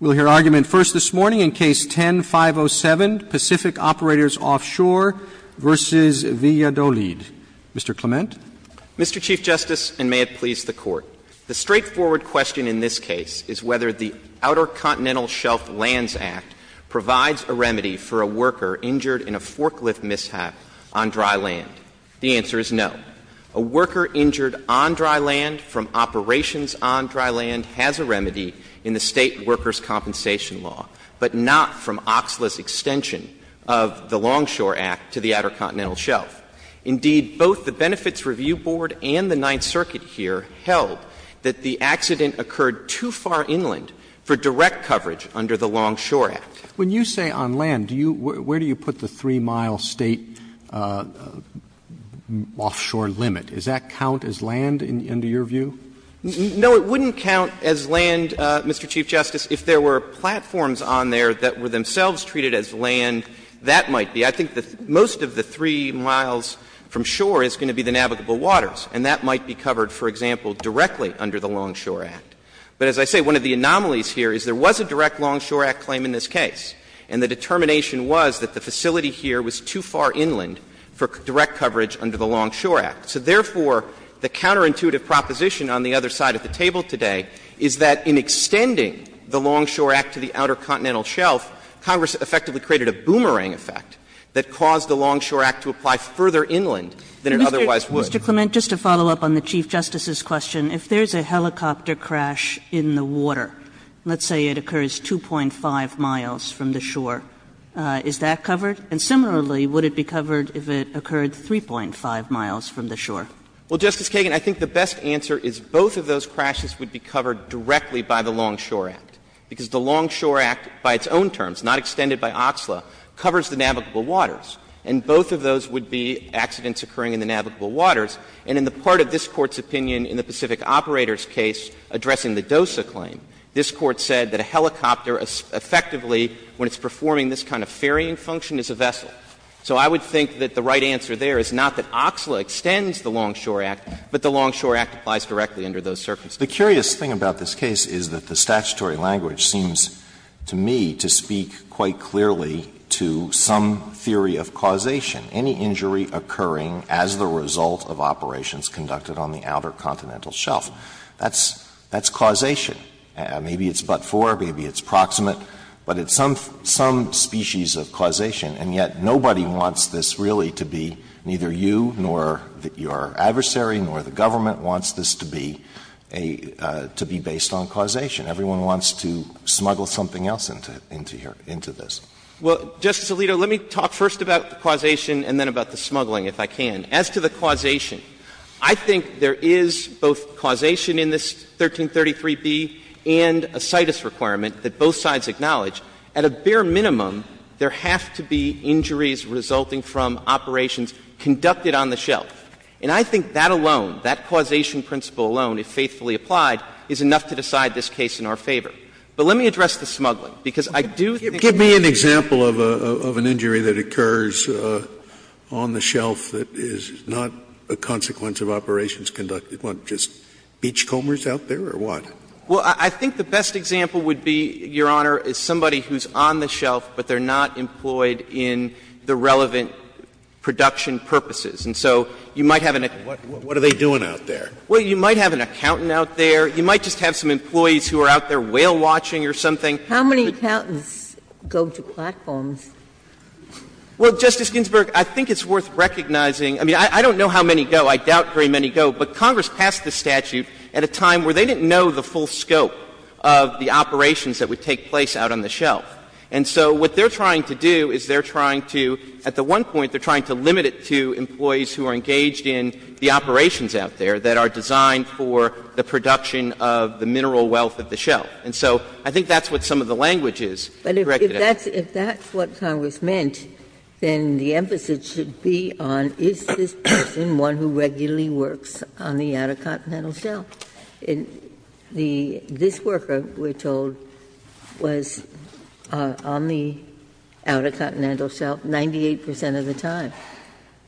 We'll hear argument first this morning in Case 10-507, Pacific Operators Offshore v. Valladolid. Mr. Clement. Mr. Chief Justice, and may it please the Court, the straightforward question in this case is whether the Outer Continental Shelf Lands Act provides a remedy for a worker injured in a forklift mishap on dry land. The answer is no. A worker injured on dry land from operations on dry land has a remedy in the State Workers' Compensation Law, but not from OXLA's extension of the Longshore Act to the Outer Continental Shelf. Indeed, both the Benefits Review Board and the Ninth Circuit here held that the accident occurred too far inland for direct coverage under the Longshore Act. When you say on land, do you — where do you put the 3-mile State offshore limit? Does that count as land in your view? No, it wouldn't count as land, Mr. Chief Justice, if there were platforms on there that were themselves treated as land. That might be. I think most of the 3 miles from shore is going to be the navigable waters, and that might be covered, for example, directly under the Longshore Act. But as I say, one of the anomalies here is there was a direct Longshore Act claim in this case, and the determination was that the facility here was too far inland for direct coverage under the Longshore Act. So therefore, the counterintuitive proposition on the other side of the table today is that in extending the Longshore Act to the Outer Continental Shelf, Congress effectively created a boomerang effect that caused the Longshore Act to apply further inland than it otherwise would. Kagan. Mr. Clement, just to follow up on the Chief Justice's question, if there's a helicopter crash in the water, let's say it occurs 2.5 miles from the shore, is that covered? And similarly, would it be covered if it occurred 3.5 miles from the shore? Well, Justice Kagan, I think the best answer is both of those crashes would be covered directly by the Longshore Act, because the Longshore Act by its own terms, not extended by OTSLA, covers the navigable waters. And both of those would be accidents occurring in the navigable waters. And in the part of this Court's opinion in the Pacific Operators case addressing the DOSA claim, this Court said that a helicopter effectively, when it's performing this kind of ferrying function, is a vessel. So I would think that the right answer there is not that OTSLA extends the Longshore Act, but the Longshore Act applies directly under those circumstances. The curious thing about this case is that the statutory language seems to me to speak quite clearly to some theory of causation. Any injury occurring as the result of operations conducted on the Outer Continental Shelf, that's causation. Maybe it's but-for, maybe it's proximate, but it's some species of causation. And yet nobody wants this really to be, neither you nor your adversary nor the government wants this to be based on causation. Everyone wants to smuggle something else into this. Well, Justice Alito, let me talk first about the causation and then about the smuggling, if I can. As to the causation, I think there is both causation in this 1333b and a citus requirement that both sides acknowledge. At a bare minimum, there have to be injuries resulting from operations conducted on the shelf. And I think that alone, that causation principle alone, if faithfully applied, is enough to decide this case in our favor. But let me address the smuggling, because I do think that there is an injury that occurs on the shelf that is not a consequence of operations conducted. Aren't just beachcombers out there, or what? Well, I think the best example would be, Your Honor, is somebody who's on the shelf, but they're not employed in the relevant production purposes. And so you might have an accountant. What are they doing out there? Well, you might have an accountant out there. You might just have some employees who are out there whale-watching or something. How many accountants go to platforms? Well, Justice Ginsburg, I think it's worth recognizing. I mean, I don't know how many go. I doubt very many go. But Congress passed this statute at a time where they didn't know the full scope of the operations that would take place out on the shelf. And so what they're trying to do is they're trying to, at the one point, they're trying to limit it to employees who are engaged in the operations out there that are designed for the production of the mineral wealth of the shelf. And so I think that's what some of the language is corrected at. But if that's what Congress meant, then the emphasis should be on is this person one who regularly works on the Outer Continental Shelf? This worker, we're told, was on the Outer Continental Shelf 98 percent of the time.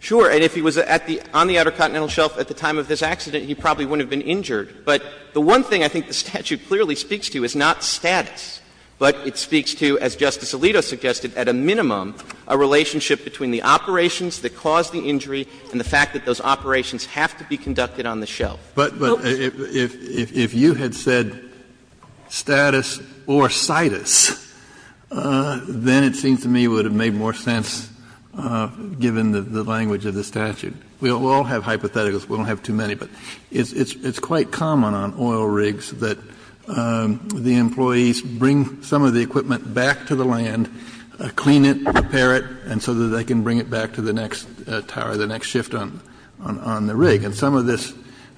Sure. And if he was on the Outer Continental Shelf at the time of this accident, he probably wouldn't have been injured. But the one thing I think the statute clearly speaks to is not status, but it speaks to, as Justice Alito suggested, at a minimum, a relationship between the operations that caused the injury and the fact that those operations have to be conducted on the shelf. Kennedy. But if you had said status or situs, then it seems to me it would have made more sense, given the language of the statute. We all have hypotheticals. We don't have too many. But it's quite common on oil rigs that the employees bring some of the equipment back to the land, clean it, repair it, and so that they can bring it back to the next tower, the next shift on the rig. And some of this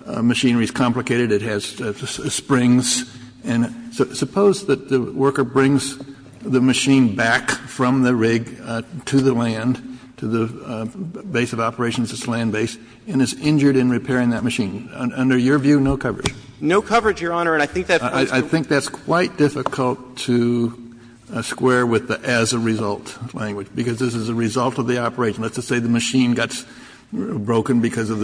machinery is complicated. It has springs. And suppose that the worker brings the machine back from the rig to the land, to the base of operations, its land base, and is injured in repairing that machine. Under your view, no coverage. No coverage, Your Honor. And I think that's quite difficult to square with the as-a-result language. Because this is a result of the operation. Let's just say the machine got broken because of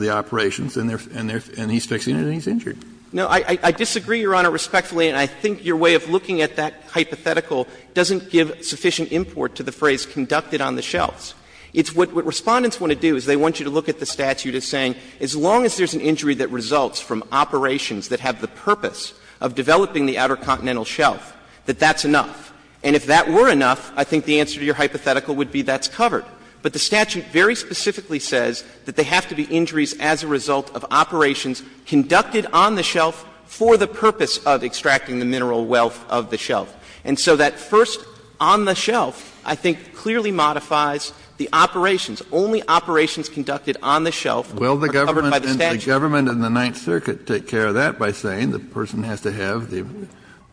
the operations and he's fixing it and he's injured. No, I disagree, Your Honor, respectfully, and I think your way of looking at that hypothetical doesn't give sufficient import to the phrase, conducted on the shelves. It's what Respondents want to do, is they want you to look at the statute as saying as long as there's an injury that results from operations that have the purpose of developing the Outer Continental Shelf, that that's enough. And if that were enough, I think the answer to your hypothetical would be that's covered. But the statute very specifically says that they have to be injuries as a result of operations conducted on the shelf for the purpose of extracting the mineral wealth of the shelf. And so that first, on the shelf, I think clearly modifies the operations. Only operations conducted on the shelf are covered by the statute. Kennedy, The government and the Ninth Circuit take care of that by saying the person has to have, the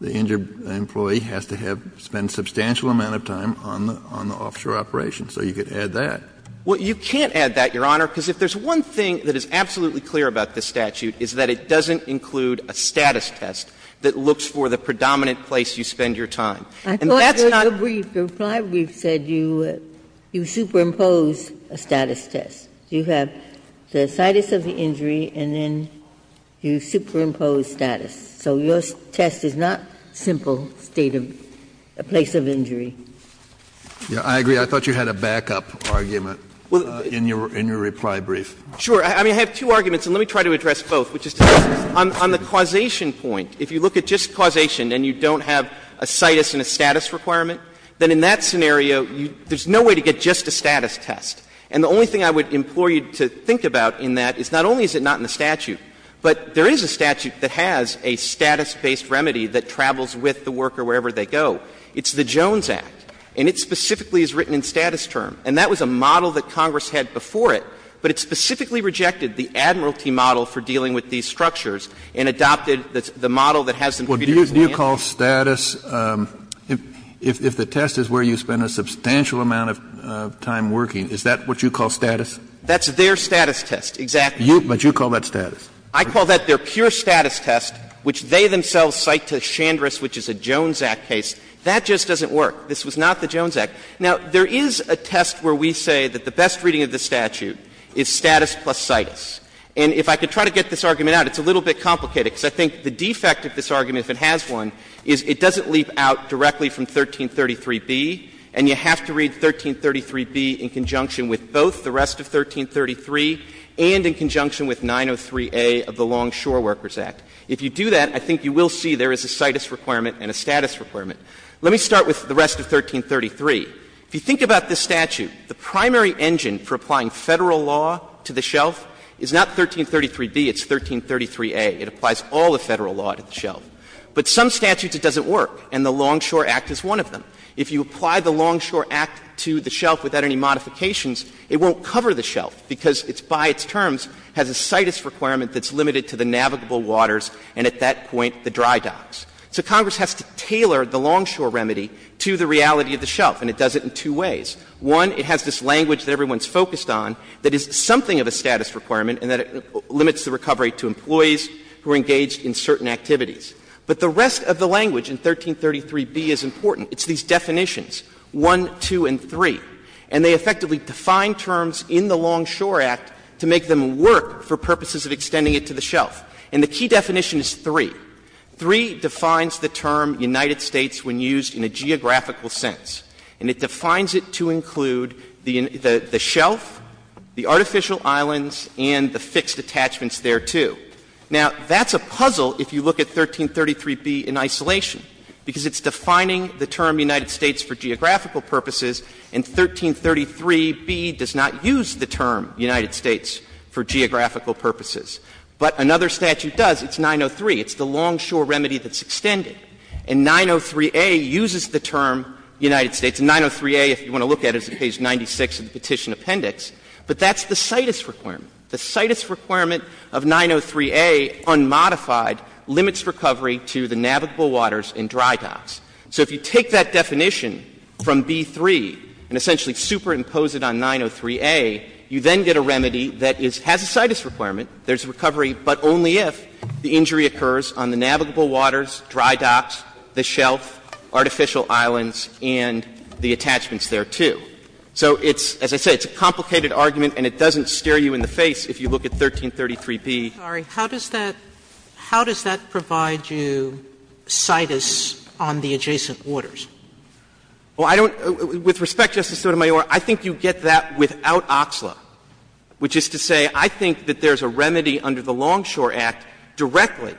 injured employee has to have spent a substantial amount of time on the offshore operation. So you could add that. Well, you can't add that, Your Honor, because if there's one thing that is absolutely clear about this statute is that it doesn't include a status test that looks for the And that's not I thought your brief, your reply brief said you, you superimpose a status test. You have the situs of the injury and then you superimpose status. So your test is not simple state of, a place of injury. Yeah, I agree. I thought you had a backup argument in your, in your reply brief. Sure. I mean, I have two arguments, and let me try to address both, which is on the causation point. If you look at just causation and you don't have a situs and a status requirement, then in that scenario, you, there's no way to get just a status test. And the only thing I would implore you to think about in that is not only is it not in the statute, but there is a statute that has a status-based remedy that travels with the worker wherever they go. It's the Jones Act. And it specifically is written in status term. And that was a model that Congress had before it, but it specifically rejected the admiralty model for dealing with these structures and adopted the model that has some features in the end. Well, do you call status, if the test is where you spend a substantial amount of time working, is that what you call status? That's their status test, exactly. But you call that status? I call that their pure status test, which they themselves cite to Chandris, which is a Jones Act case. That just doesn't work. This was not the Jones Act. Now, there is a test where we say that the best reading of the statute is status plus citus. And if I could try to get this argument out, it's a little bit complicated, because I think the defect of this argument, if it has one, is it doesn't leap out directly from 1333b, and you have to read 1333b in conjunction with both the rest of 1333 and in conjunction with 903a of the Longshore Workers Act. If you do that, I think you will see there is a citus requirement and a status requirement. Let me start with the rest of 1333. If you think about this statute, the primary engine for applying Federal law to the shelf is not 1333b, it's 1333a. It applies all of Federal law to the shelf. But some statutes it doesn't work, and the Longshore Act is one of them. If you apply the Longshore Act to the shelf without any modifications, it won't cover the shelf, because it's by its terms has a citus requirement that's limited to the navigable waters and at that point the dry docks. So Congress has to tailor the Longshore remedy to the reality of the shelf, and it does it in two ways. One, it has this language that everyone is focused on that is something of a status requirement and that limits the recovery to employees who are engaged in certain activities. But the rest of the language in 1333b is important. It's these definitions, 1, 2, and 3, and they effectively define terms in the Longshore Act to make them work for purposes of extending it to the shelf. And the key definition is 3. 3 defines the term United States when used in a geographical sense, and it defines it to include the shelf, the artificial islands, and the fixed attachments thereto. Now, that's a puzzle if you look at 1333b in isolation, because it's defining the term United States for geographical purposes, and 1333b does not use the term United States for geographical purposes. But another statute does. It's the longshore remedy that's extended. And 903A uses the term United States. And 903A, if you want to look at it, is at page 96 of the Petition Appendix. But that's the CITES requirement. The CITES requirement of 903A, unmodified, limits recovery to the navigable waters and dry docks. So if you take that definition from b)(3 and essentially superimpose it on 903A, you then get a remedy that has a CITES requirement. There's a recovery, but only if the injury occurs on the navigable waters, dry docks, the shelf, artificial islands, and the attachments thereto. So it's, as I said, it's a complicated argument, and it doesn't stare you in the face if you look at 1333b. Sotomayor, how does that provide you CITES on the adjacent orders? Well, I don't — with respect, Justice Sotomayor, I think you get that without Oxlow, which is to say I think that there's a remedy under the Longshore Act directly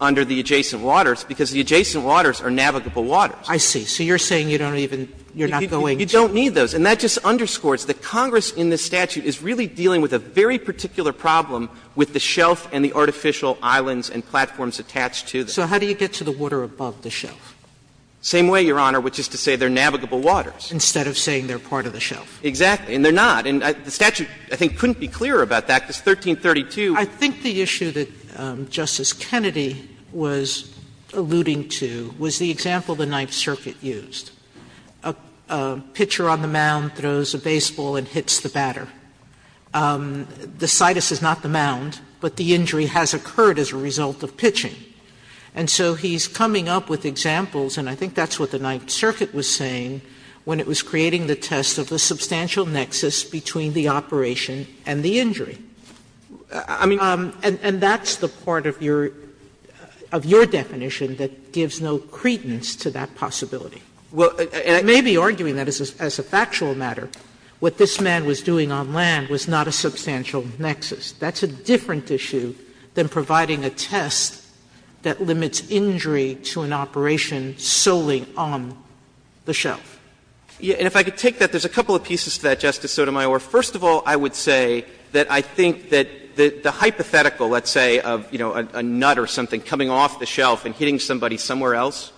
under the adjacent waters, because the adjacent waters are navigable waters. I see. So you're saying you don't even — you're not going to. You don't need those. And that just underscores that Congress in this statute is really dealing with a very particular problem with the shelf and the artificial islands and platforms attached to them. So how do you get to the water above the shelf? Same way, Your Honor, which is to say they're navigable waters. Instead of saying they're part of the shelf. Exactly. And they're not. And the statute, I think, couldn't be clearer about that, because 1332. I think the issue that Justice Kennedy was alluding to was the example the Ninth Circuit used. A pitcher on the mound throws a baseball and hits the batter. The CITES is not the mound, but the injury has occurred as a result of pitching. And so he's coming up with examples, and I think that's what the Ninth Circuit was saying when it was creating the test of the substantial nexus between the operation and the injury. And that's the part of your definition that gives no credence to that possibility. And I may be arguing that as a factual matter. What this man was doing on land was not a substantial nexus. That's a different issue than providing a test that limits injury to an operation solely on the shelf. And if I could take that, there's a couple of pieces to that, Justice Sotomayor. First of all, I would say that I think that the hypothetical, let's say, of, you know, a nut or something coming off the shelf and hitting somebody somewhere else,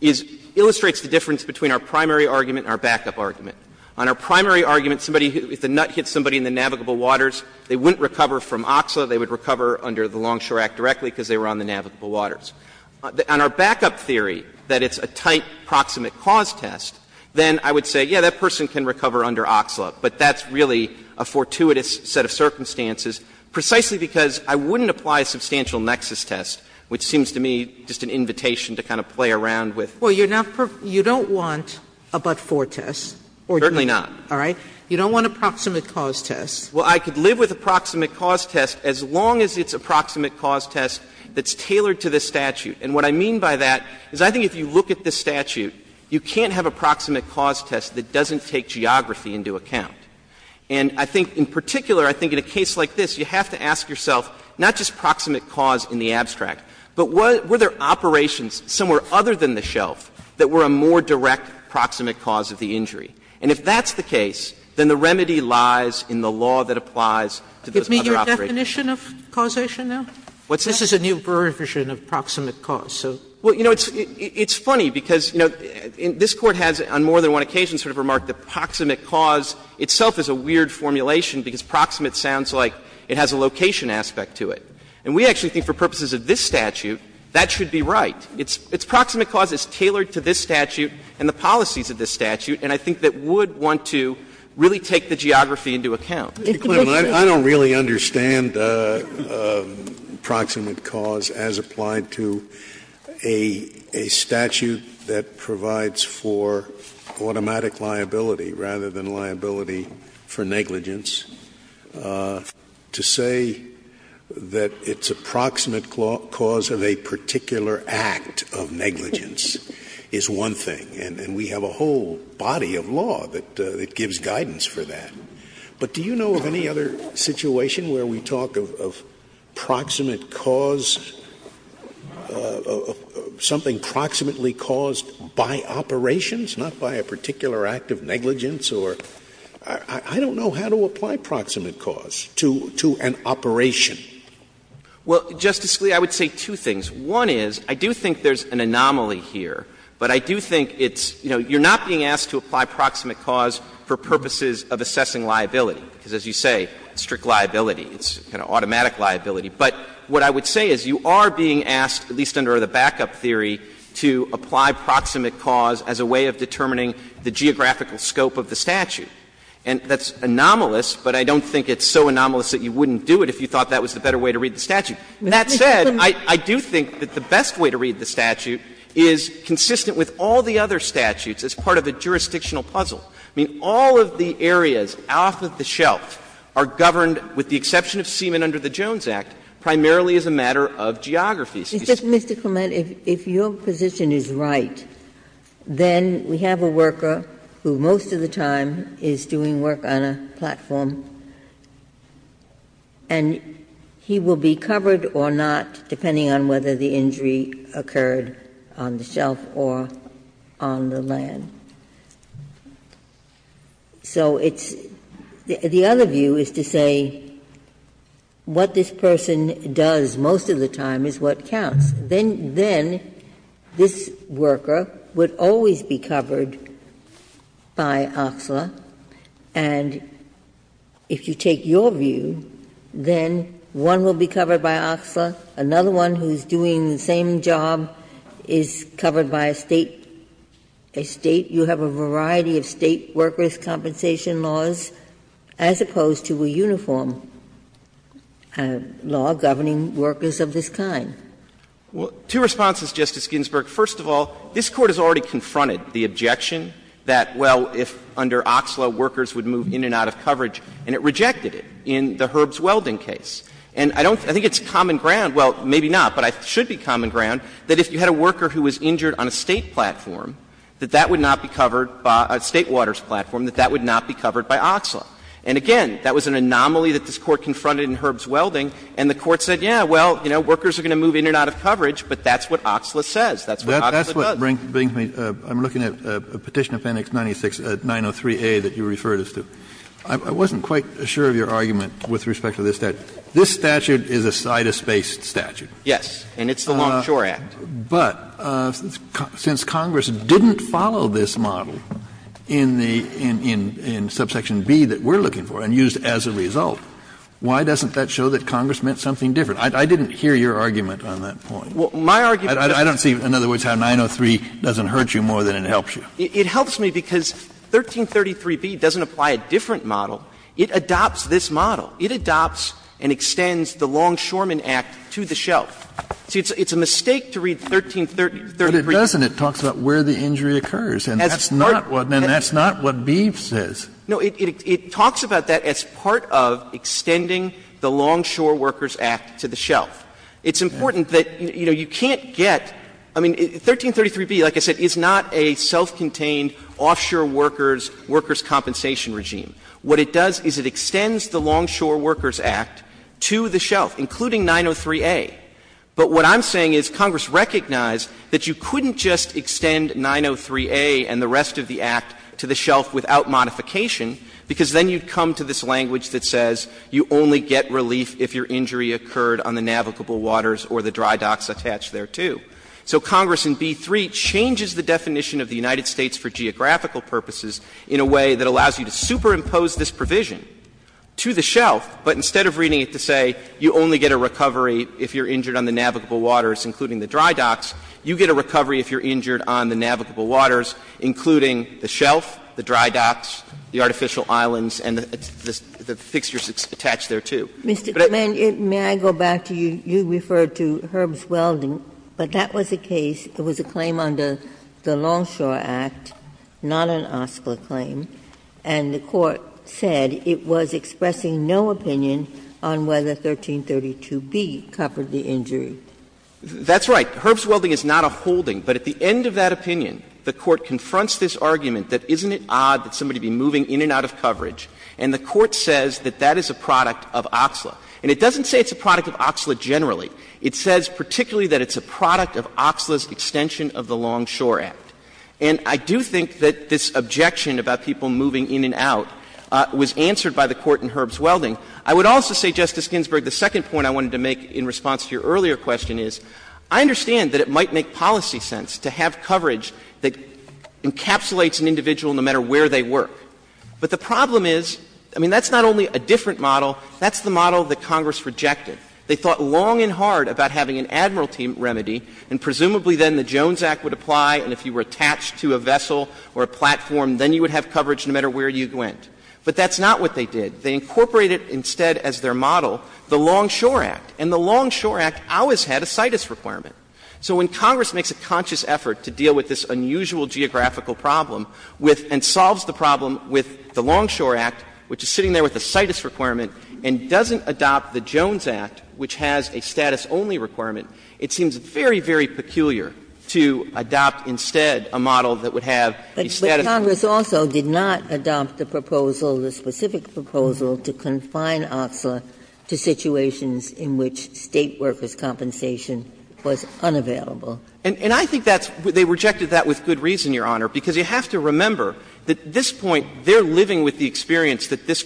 is — illustrates the difference between our primary argument and our backup argument. On our primary argument, somebody — if the nut hit somebody in the navigable waters, they wouldn't recover from OXA. They would recover under the Longshore Act directly because they were on the navigable waters. On our backup theory, that it's a tight proximate cause test, then I would say, yeah, that person can recover under OXLA, but that's really a fortuitous set of circumstances, precisely because I wouldn't apply a substantial nexus test, which seems to me just an invitation to kind of play around with — Sotomayor, you're not — you don't want a but-for test, or do you? Certainly not. All right? You don't want a proximate cause test. Well, I could live with a proximate cause test as long as it's a proximate cause test that's tailored to this statute. And what I mean by that is I think if you look at this statute, you can't have a proximate cause test that doesn't take geography into account. And I think in particular, I think in a case like this, you have to ask yourself not just proximate cause in the abstract, but were there operations somewhere other than the shelf that were a more direct proximate cause of the injury? And if that's the case, then the remedy lies in the law that applies to those other operations. Sotomayor, do you have a definition of causation now? What's that? This is a new version of proximate cause, so. Well, you know, it's funny because, you know, this Court has on more than one occasion sort of remarked that proximate cause itself is a weird formulation because proximate sounds like it has a location aspect to it. And we actually think for purposes of this statute, that should be right. It's proximate cause that's tailored to this statute and the policies of this statute, and I think that would want to really take the geography into account. Scalia, I don't really understand proximate cause as applied to a statute that provides for automatic liability rather than liability for negligence. To say that it's a proximate cause of a particular act of negligence is one thing, and we have a whole body of law that gives guidance for that. But do you know of any other situation where we talk of proximate cause, something proximately caused by operations, not by a particular act of negligence? Or I don't know how to apply proximate cause to an operation. Well, Justice Scalia, I would say two things. One is, I do think there's an anomaly here, but I do think it's, you know, you're not being asked to apply proximate cause for purposes of assessing liability. Because as you say, strict liability, it's kind of automatic liability. But what I would say is you are being asked, at least under the backup theory, to apply proximate cause as a way of determining the geographical scope of the statute. And that's anomalous, but I don't think it's so anomalous that you wouldn't do it if you thought that was the better way to read the statute. That said, I do think that the best way to read the statute is consistent with all the other statutes as part of a jurisdictional puzzle. I mean, all of the areas off of the shelf are governed, with the exception of Seaman under the Jones Act, primarily as a matter of geography. Ginsburg. Mr. Clement, if your position is right, then we have a worker who, most of the time, is doing work on a platform, and he will be covered or not, depending on whether the injury occurred on the shelf or on the land. So it's the other view is to say what this person does most of the time is what counts. Then this worker would always be covered by OXLA, and if you take your view, then one will be covered by OXLA, another one who's doing the same job is covered by a State. A State. You have a variety of State workers' compensation laws, as opposed to a uniform law governing workers of this kind. Well, two responses, Justice Ginsburg. First of all, this Court has already confronted the objection that, well, if under OXLA, workers would move in and out of coverage, and it rejected it in the Herbst Welding case. And I don't think it's common ground, well, maybe not, but it should be common ground, that if you had a worker who was injured on a State platform, that that would not be covered by a State waters platform, that that would not be covered by OXLA. And again, that was an anomaly that this Court confronted in Herbst Welding, and the Court said, yeah, well, you know, workers are going to move in and out of coverage, but that's what OXLA says. That's what OXLA does. Kennedy, I'm looking at Petition Appendix 96903A that you referred us to. I wasn't quite sure of your argument with respect to this statute. This statute is a CITUS-based statute. Yes, and it's the Longshore Act. But since Congress didn't follow this model in the – in subsection B that we're looking for and used as a result, why doesn't that show that Congress meant something different? I didn't hear your argument on that point. Well, my argument is that's not true. I don't see, in other words, how 903 doesn't hurt you more than it helps you. It helps me because 1333B doesn't apply a different model. It adopts this model. It adopts and extends the Longshoremen Act to the shelf. See, it's a mistake to read 1333B. But it doesn't. It talks about where the injury occurs. And that's not what – and that's not what B says. No, it talks about that as part of extending the Longshore Workers Act to the shelf. It's important that, you know, you can't get – I mean, 1333B, like I said, is not a self-contained offshore workers' – workers' compensation regime. What it does is it extends the Longshore Workers Act to the shelf, including 903A. But what I'm saying is Congress recognized that you couldn't just extend 903A and the rest of the Act to the shelf without modification, because then you'd come to this language that says you only get relief if your injury occurred on the navigable waters or the dry docks attached there, too. So Congress in B-3 changes the definition of the United States for geographical purposes in a way that allows you to superimpose this provision to the shelf, but instead of reading it to say you only get a recovery if you're injured on the navigable waters, including the dry docks, you get a recovery if you're injured on the navigable waters, including the shelf, the dry docks, the artificial islands, and the fixtures attached there, too. But it's – Ginsburg. Mr. Clement, may I go back to you? You referred to Herb's Welding, but that was a case – it was a claim under the Longshore Act, not an OSCLA claim, and the Court said it was expressing no opinion on whether 1332B covered the injury. That's right. Herb's Welding is not a holding, but at the end of that opinion, the Court confronts this argument that isn't it odd that somebody would be moving in and out of coverage, and the Court says that that is a product of OCSLA. And it doesn't say it's a product of OCSLA generally. It says particularly that it's a product of OCSLA's extension of the Longshore Act. And I do think that this objection about people moving in and out was answered by the Court in Herb's Welding. I would also say, Justice Ginsburg, the second point I wanted to make in response to your earlier question is, I understand that it might make policy sense to have coverage that encapsulates an individual no matter where they work. But the problem is, I mean, that's not only a different model. That's the model that Congress rejected. They thought long and hard about having an Admiralty remedy, and presumably then the Jones Act would apply, and if you were attached to a vessel or a platform, then you would have coverage no matter where you went. But that's not what they did. They incorporated instead as their model the Longshore Act. And the Longshore Act always had a CITUS requirement. So when Congress makes a conscious effort to deal with this unusual geographical problem with and solves the problem with the Longshore Act, which is sitting there with a CITUS requirement and doesn't adopt the Jones Act, which has a status-only requirement, it seems very, very peculiar to adopt instead a model that would have a status-only model. Ginsburg. But Congress also did not adopt the proposal, the specific proposal, to confine OXLA to situations in which State workers' compensation was unavailable. And I think that's why they rejected that with good reason, Your Honor, because you have to remember that at this point they're living with the experience that this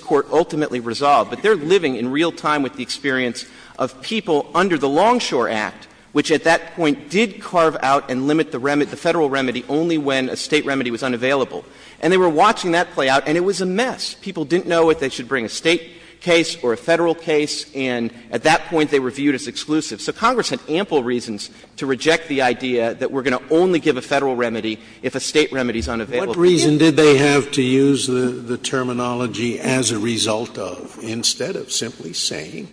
Longshore Act, which at that point did carve out and limit the Federal remedy only when a State remedy was unavailable. And they were watching that play out, and it was a mess. People didn't know if they should bring a State case or a Federal case. And at that point they were viewed as exclusive. So Congress had ample reasons to reject the idea that we're going to only give a Federal remedy if a State remedy is unavailable. Scalia. What reason did they have to use the terminology, as a result of, instead of simply saying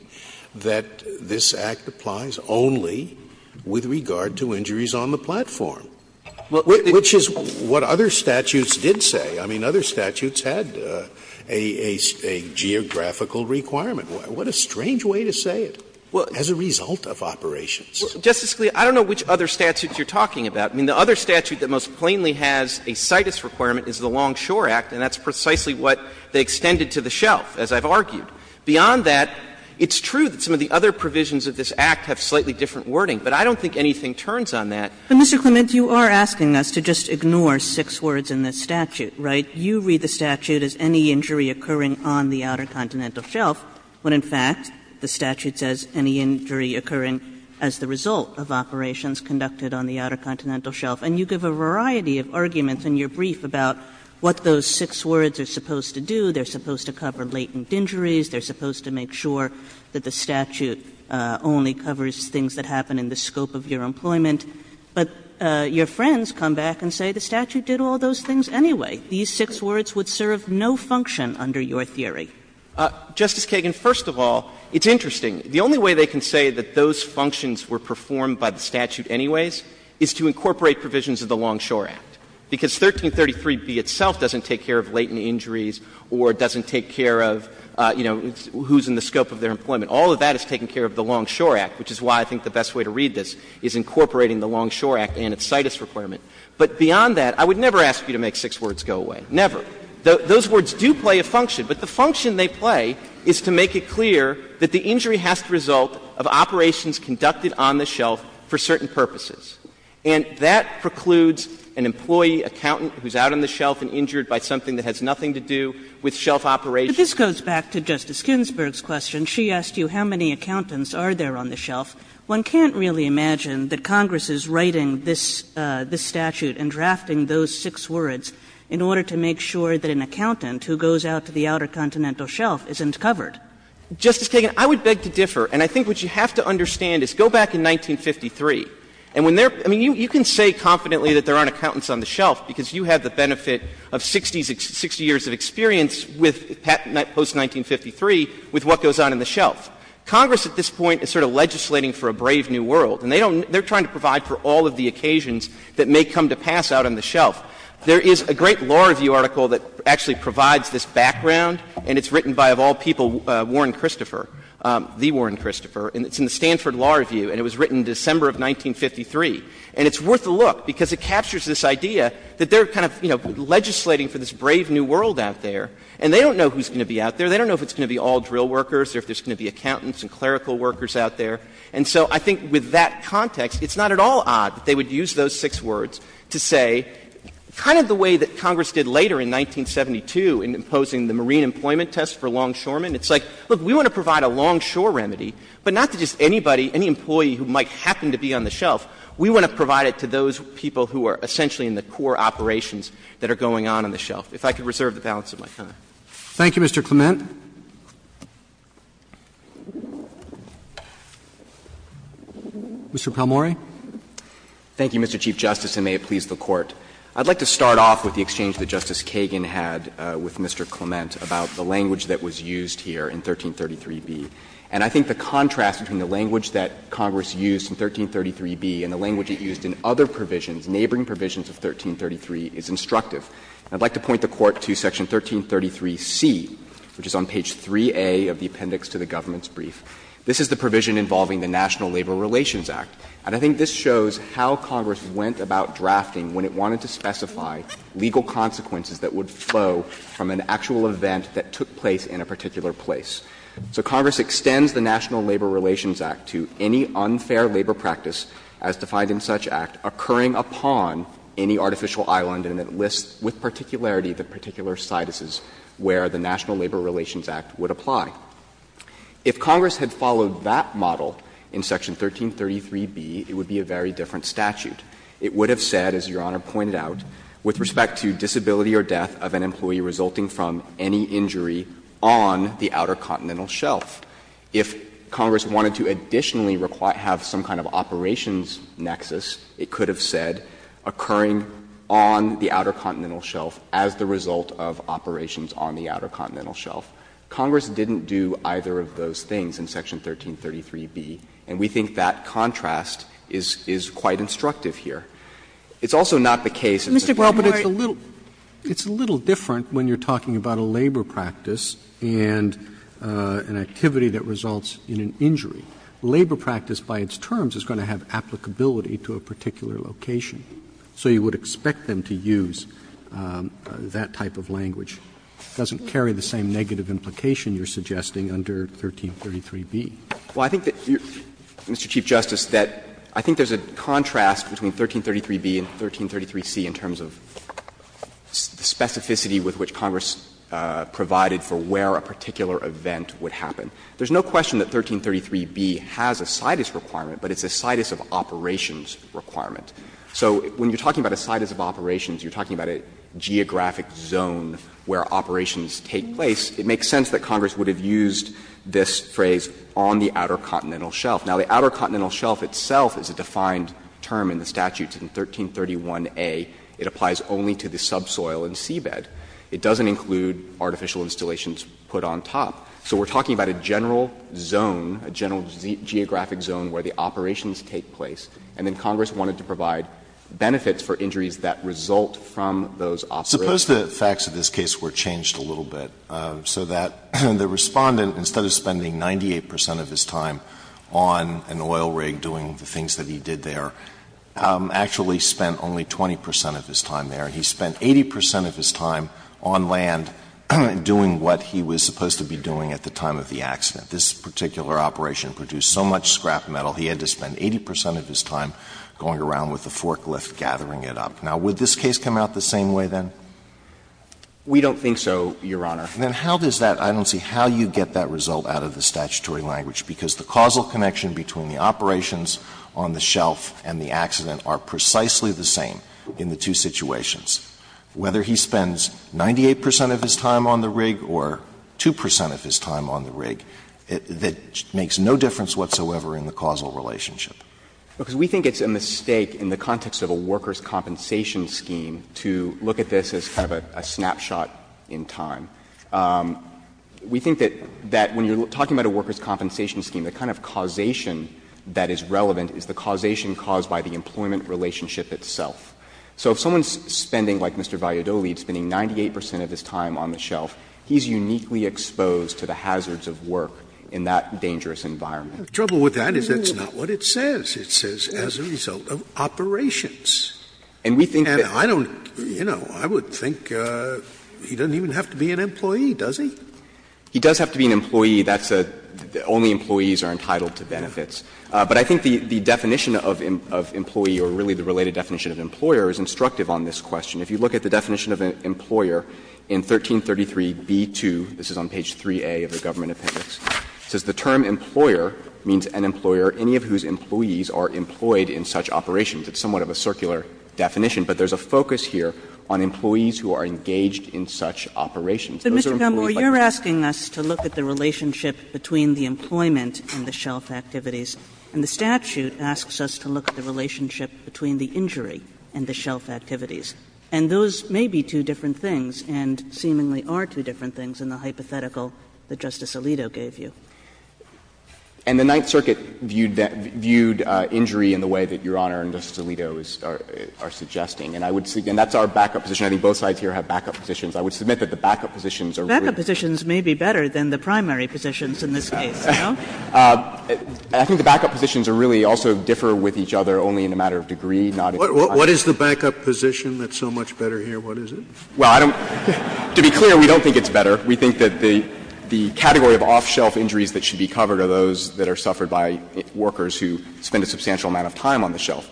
that this Act applies only with regard to injuries on the platform? Which is what other statutes did say. I mean, other statutes had a geographical requirement. What a strange way to say it, as a result of operations. Justice Scalia, I don't know which other statutes you're talking about. I mean, the other statute that most plainly has a CITES requirement is the Longshore Act, and that's precisely what they extended to the shelf, as I've argued. Beyond that, it's true that some of the other provisions of this Act have slightly different wording, but I don't think anything turns on that. Kagan. But, Mr. Clement, you are asking us to just ignore six words in this statute, right? You read the statute as any injury occurring on the outer continental shelf, when, in fact, the statute says any injury occurring as the result of operations conducted on the outer continental shelf. And you give a variety of arguments in your brief about what those six words are supposed to do. They're supposed to cover latent injuries. They're supposed to make sure that the statute only covers things that happen in the scope of your employment. But your friends come back and say the statute did all those things anyway. These six words would serve no function under your theory. Justice Kagan, first of all, it's interesting. The only way they can say that those functions were performed by the statute anyways is to incorporate provisions of the Longshore Act, because 1333b itself doesn't take care of latent injuries or doesn't take care of, you know, who's in the scope of their employment. All of that is taking care of the Longshore Act, which is why I think the best way to read this is incorporating the Longshore Act and its CITUS requirement. But beyond that, I would never ask you to make six words go away. Never. Those words do play a function, but the function they play is to make it clear that the injury has to result of operations conducted on the shelf for certain purposes. And that precludes an employee, accountant, who's out on the shelf and injured by something that has nothing to do with shelf operations. But this goes back to Justice Ginsburg's question. She asked you how many accountants are there on the shelf. One can't really imagine that Congress is writing this statute and drafting those six words in order to make sure that an accountant who goes out to the Outer Continental Shelf isn't covered. Justice Kagan, I would beg to differ. And I think what you have to understand is go back in 1953. And when they're — I mean, you can say confidently that there aren't accountants on the shelf because you have the benefit of 60 years of experience with — post-1953 with what goes on in the shelf. Congress at this point is sort of legislating for a brave new world, and they don't — they're trying to provide for all of the occasions that may come to pass out on the shelf. There is a great law review article that actually provides this background, and it's written by, of all people, Warren Christopher, the Warren Christopher. And it's in the Stanford Law Review, and it was written December of 1953. And it's worth a look, because it captures this idea that they're kind of, you know, legislating for this brave new world out there. And they don't know who's going to be out there. They don't know if it's going to be all drill workers or if there's going to be accountants and clerical workers out there. And so I think with that context, it's not at all odd that they would use those six words to say kind of the way that Congress did later in 1972 in imposing the Marine Employment Test for longshoremen. It's like, look, we want to provide a longshore remedy, but not to just anybody, any employee who might happen to be on the shelf. We want to provide it to those people who are essentially in the core operations that are going on on the shelf. If I could reserve the balance of my time. Roberts. Thank you, Mr. Clement. Mr. Palmore. Thank you, Mr. Chief Justice, and may it please the Court. I'd like to start off with the exchange that Justice Kagan had with Mr. Clement about the language that was used here in 1333b. And I think the contrast between the language that Congress used in 1333b and the language it used in other provisions, neighboring provisions of 1333, is instructive. I'd like to point the Court to section 1333c, which is on page 3a of the appendix to the government's brief. This is the provision involving the National Labor Relations Act. And I think this shows how Congress went about drafting when it wanted to specify legal consequences that would flow from an actual event that took place in a particular place. So Congress extends the National Labor Relations Act to any unfair labor practice, as defined in such act, occurring upon any artificial island, and it lists with particularity the particular situses where the National Labor Relations Act would apply. If Congress had followed that model in section 1333b, it would be a very different statute. It would have said, as Your Honor pointed out, with respect to disability or death of an employee resulting from any injury on the outer continental shelf. If Congress wanted to additionally have some kind of operations nexus, it could have said occurring on the outer continental shelf as the result of operations on the outer continental shelf. Congress didn't do either of those things in section 1333b, and we think that contrast is quite instructive here. It's also not the case in section 1333b. Sotomayor, but it's a little different when you're talking about a labor practice and an activity that results in an injury. Labor practice, by its terms, is going to have applicability to a particular location, so you would expect them to use that type of language. It doesn't carry the same negative implication you're suggesting under 1333b. Well, I think that, Mr. Chief Justice, that I think there's a contrast between 1333b and 1333c in terms of the specificity with which Congress provided for where a particular event would happen. There's no question that 1333b has a situs requirement, but it's a situs of operations requirement. So when you're talking about a situs of operations, you're talking about a geographic zone where operations take place. It makes sense that Congress would have used this phrase, on the outer continental shelf. Now, the outer continental shelf itself is a defined term in the statute. In 1331a, it applies only to the subsoil and seabed. It doesn't include artificial installations put on top. So we're talking about a general zone, a general geographic zone where the operations take place, and then Congress wanted to provide benefits for injuries that result from those operations. Suppose the facts of this case were changed a little bit so that the Respondent, instead of spending 98 percent of his time on an oil rig doing the things that he did there, actually spent only 20 percent of his time there, and he spent 80 percent of his time on land doing what he was supposed to be doing at the time of the accident. This particular operation produced so much scrap metal, he had to spend 80 percent of his time going around with a forklift, gathering it up. Now, would this case come out the same way, then? We don't think so, Your Honor. Then how does that – I don't see how you get that result out of the statutory language, because the causal connection between the operations on the shelf and the accident are precisely the same in the two situations. Whether he spends 98 percent of his time on the rig or 2 percent of his time on the rig, it makes no difference whatsoever in the causal relationship. Because we think it's a mistake in the context of a workers' compensation scheme to look at this as kind of a snapshot in time. We think that when you're talking about a workers' compensation scheme, the kind of causation that is relevant is the causation caused by the employment relationship itself. So if someone's spending, like Mr. Valliardoli, is spending 98 percent of his time on the shelf, he's uniquely exposed to the hazards of work in that dangerous environment. Scalia. The trouble with that is that's not what it says. It says, as a result of operations. And I don't – you know, I would think he doesn't even have to be an employee, does he? He does have to be an employee. That's a – only employees are entitled to benefits. But I think the definition of employee, or really the related definition of employer, is instructive on this question. If you look at the definition of an employer in 1333b-2, this is on page 3a of the They gender all the other positions of importance for the government appendix. Says the term employer, means an employer, any of whose employees are employed in such operations. It's somewhat of a circular definition, but there's a focus here on employees who are engaged in such operations. Those are employees like me. Kagan. Kagan. And you're asking us to look at the relationship between the employment and the shelf activities, and the statute asks us to look at the relationship between the injury and the shelf activities. And those may be two different things, and seemingly are two different things in the hypothetical that Justice Alito gave you. And the Ninth Circuit viewed injury in the way that Your Honor and Justice Alito are suggesting. And I would say, and that's our backup position. I think both sides here have backup positions. I would submit that the backup positions are really Backup positions may be better than the primary positions in this case, you know? I think the backup positions are really also differ with each other only in a matter of degree, not in time. What is the backup position that's so much better here? What is it? Well, I don't – to be clear, we don't think it's better. We think that the category of off-shelf injuries that should be covered are those that are suffered by workers who spend a substantial amount of time on the shelf.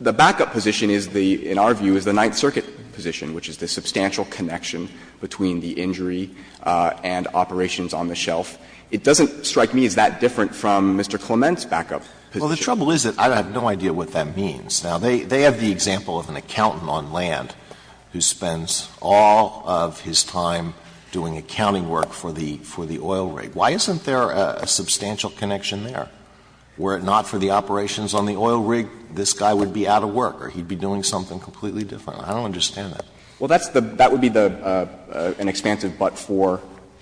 The backup position is the, in our view, is the Ninth Circuit position, which is the substantial connection between the injury and operations on the shelf. It doesn't strike me as that different from Mr. Clement's backup position. Well, the trouble is that I have no idea what that means. Now, they have the example of an accountant on land who spends all of his time doing accounting work for the oil rig. Why isn't there a substantial connection there? Were it not for the operations on the oil rig, this guy would be out of work or he'd be doing something completely different. I don't understand that. Well, that's the – that would be the – an expansive but-for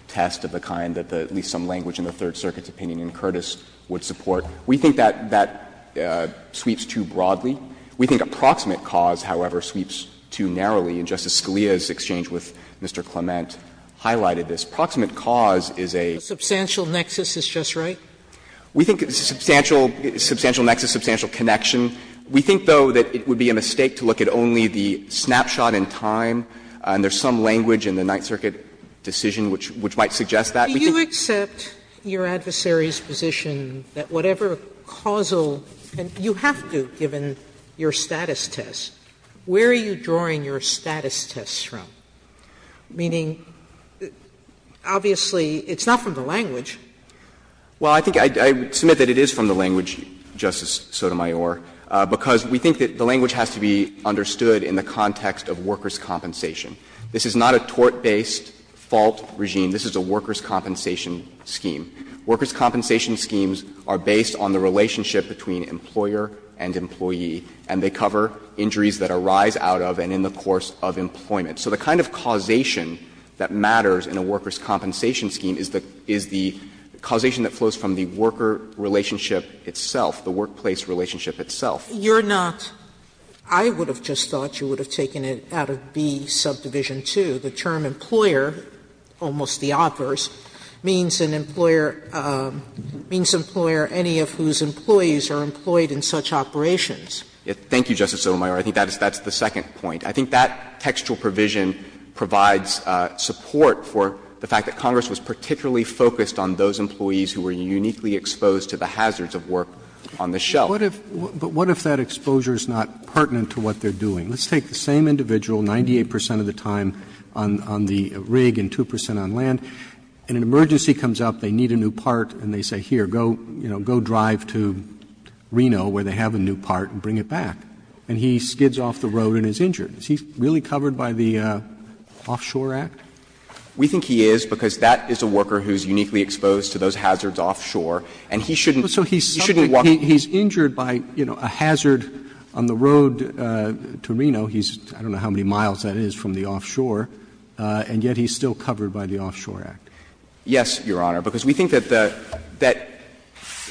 test of the kind that at least some language in the Third Circuit's opinion in Curtis would support. We think that that sweeps too broadly. We think approximate cause, however, sweeps too narrowly. And Justice Scalia's exchange with Mr. Clement highlighted this. Approximate cause is a – Substantial nexus is just right? We think it's a substantial – substantial nexus, substantial connection. We think, though, that it would be a mistake to look at only the snapshot in time, and there's some language in the Ninth Circuit decision which might suggest that. Sotomayor, do you accept your adversary's position that whatever causal – you have to, given your status test. Where are you drawing your status test from? Meaning, obviously, it's not from the language. Well, I think I would submit that it is from the language, Justice Sotomayor, because we think that the language has to be understood in the context of workers' compensation. This is not a tort-based fault regime. This is a workers' compensation scheme. Workers' compensation schemes are based on the relationship between employer and employee, and they cover injuries that arise out of and in the course of employment. So the kind of causation that matters in a workers' compensation scheme is the causation that flows from the worker relationship itself, the workplace relationship itself. You're not – I would have just thought you would have taken it out of B, subdivision 2, the term employer, almost the opposite, means an employer – means an employer any of whose employees are employed in such operations. Thank you, Justice Sotomayor. I think that's the second point. I think that textual provision provides support for the fact that Congress was particularly focused on those employees who were uniquely exposed to the hazards of work on the shelf. But what if that exposure is not pertinent to what they're doing? Let's take the same individual, 98 percent of the time on the rig and 2 percent on land, and an emergency comes up, they need a new part, and they say, here, go, you know, go drive to Reno where they have a new part and bring it back. And he skids off the road and is injured. Is he really covered by the Offshore Act? We think he is, because that is a worker who is uniquely exposed to those hazards offshore, and he shouldn't walk. So he's injured by, you know, a hazard on the road to Reno. He's – I don't know how many miles that is from the offshore, and yet he's still covered by the Offshore Act. Yes, Your Honor, because we think that the – that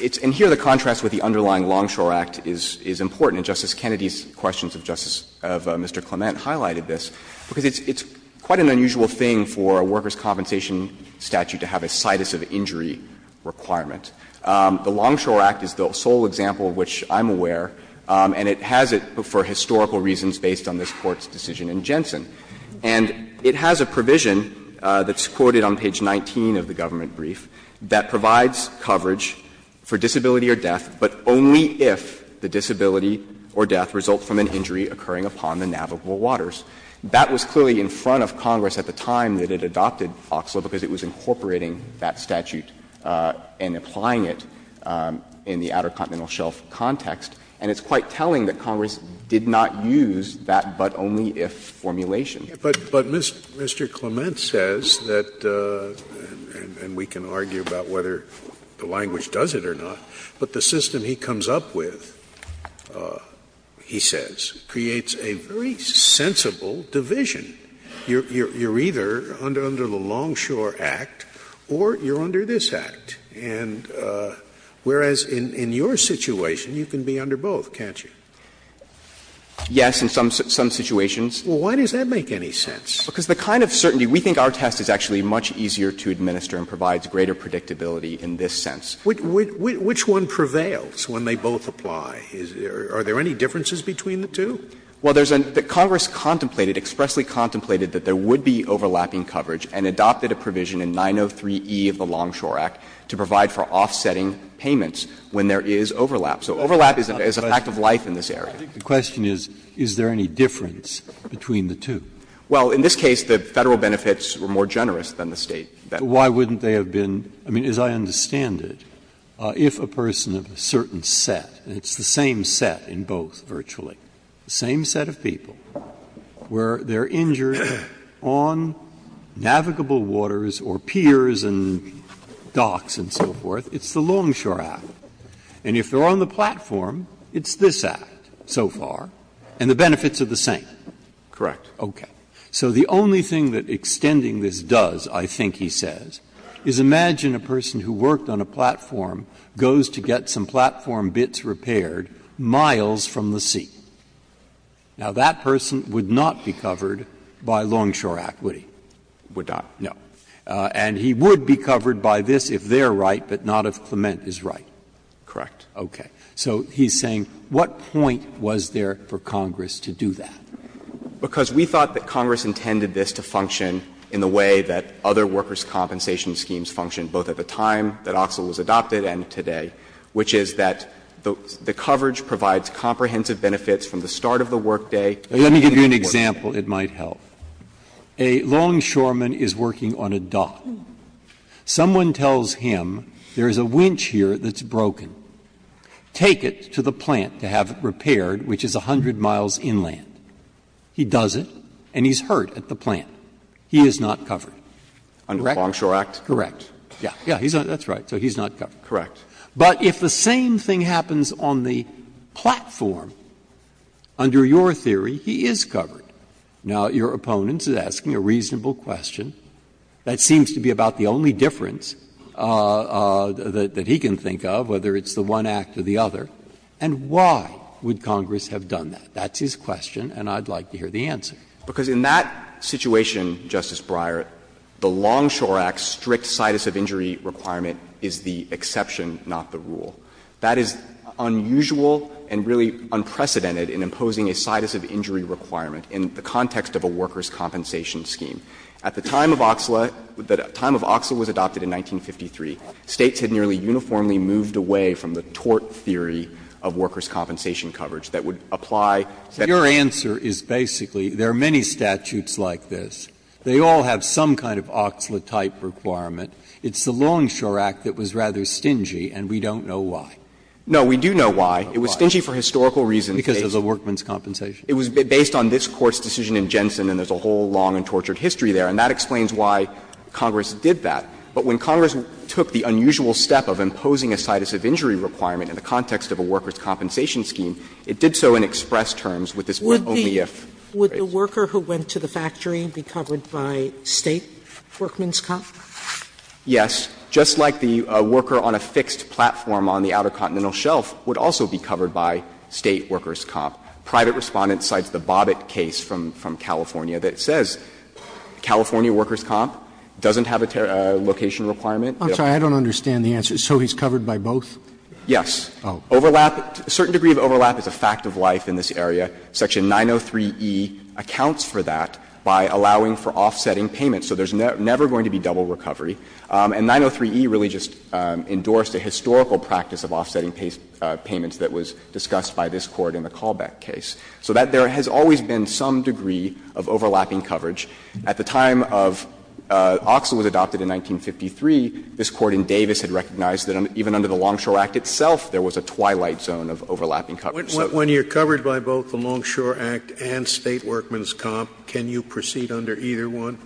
it's – and here the contrast with the underlying Longshore Act is important. And Justice Kennedy's questions of Justice – of Mr. Clement highlighted this, because it's quite an unusual thing for a workers' compensation statute to have a situs of injury requirement. The Longshore Act is the sole example of which I'm aware, and it has it for historical reasons based on this Court's decision in Jensen. And it has a provision that's quoted on page 19 of the government brief that provides coverage for disability or death, but only if the disability or death results from an injury occurring upon the navigable waters. That was clearly in front of Congress at the time that it adopted OXLA, because it was incorporating that statute and applying it in the Outer Continental Shelf context. And it's quite telling that Congress did not use that but-only-if formulation. But Mr. Clement says that, and we can argue about whether the language does it or not, but the system he comes up with, he says, creates a very sensible division. You're either under the Longshore Act or you're under this Act, and whereas in your situation, you can be under both, can't you? Yes, in some situations. Well, why does that make any sense? Because the kind of certainty we think our test is actually much easier to administer and provides greater predictability in this sense. Which one prevails when they both apply? Are there any differences between the two? Well, there's a – Congress contemplated, expressly contemplated that there would be overlapping coverage, and adopted a provision in 903e of the Longshore Act to provide for offsetting payments when there is overlap. So overlap is a fact of life in this area. The question is, is there any difference between the two? Well, in this case, the Federal benefits were more generous than the State benefits. Why wouldn't they have been? I mean, as I understand it, if a person of a certain set, and it's the same set in both, virtually, the same set of people, where they are injured on navigable waters or piers and docks and so forth, it's the Longshore Act. And if they are on the platform, it's this Act so far, and the benefits are the same. Correct. Okay. So the only thing that extending this does, I think he says, is imagine a person who worked on a platform goes to get some platform bits repaired miles from the sea. Now, that person would not be covered by Longshore Act, would he? Would not, no. And he would be covered by this if they are right, but not if Clement is right. Correct. Okay. So he's saying, what point was there for Congress to do that? Because we thought that Congress intended this to function in the way that other workers' compensation schemes function, both at the time that OXL was adopted and today, which is that the coverage provides comprehensive benefits from the start of the workday and the end of the workday. Let me give you an example that might help. A longshoreman is working on a dock. Someone tells him there is a winch here that's broken. Take it to the plant to have it repaired, which is 100 miles inland. He does it, and he's hurt at the plant. He is not covered. Under the Longshore Act? Correct. Yes. Yes, that's right. So he's not covered. Correct. But if the same thing happens on the platform, under your theory, he is covered. Now, your opponent is asking a reasonable question that seems to be about the only difference that he can think of, whether it's the one act or the other, and why would Congress have done that? That's his question, and I'd like to hear the answer. Because in that situation, Justice Breyer, the Longshore Act's strict situs of injury requirement is the exception, not the rule. That is unusual and really unprecedented in imposing a situs of injury requirement in the context of a workers' compensation scheme. At the time of Oxla, the time of Oxla was adopted in 1953. States had nearly uniformly moved away from the tort theory of workers' compensation coverage that would apply. So your answer is basically there are many statutes like this. They all have some kind of Oxla-type requirement. It's the Longshore Act that was rather stingy, and we don't know why. No, we do know why. It was stingy for historical reasons. Because of the workman's compensation. It was based on this Court's decision in Jensen, and there's a whole long and tortured history there, and that explains why Congress did that. But when Congress took the unusual step of imposing a situs of injury requirement in the context of a workers' compensation scheme, it did so in express terms with this only if phrase. Sotomayor would the worker who went to the factory be covered by State workman's comp? Yes. Just like the worker on a fixed platform on the Outer Continental Shelf would also be covered by State workers' comp. Private Respondent cites the Bobbitt case from California that says California workers' comp doesn't have a location requirement. I'm sorry, I don't understand the answer. So he's covered by both? Yes. Overlap, a certain degree of overlap is a fact of life in this area. Section 903e accounts for that by allowing for offsetting payments. So there's never going to be double recovery. And 903e really just endorsed a historical practice of offsetting payments that was discussed by this Court in the Calbeck case. So that there has always been some degree of overlapping coverage. At the time of Oxl was adopted in 1953, this Court in Davis had recognized that even under the Longshore Act itself, there was a twilight zone of overlapping coverage. So when you're covered by both the Longshore Act and State workman's comp, can you proceed under either one?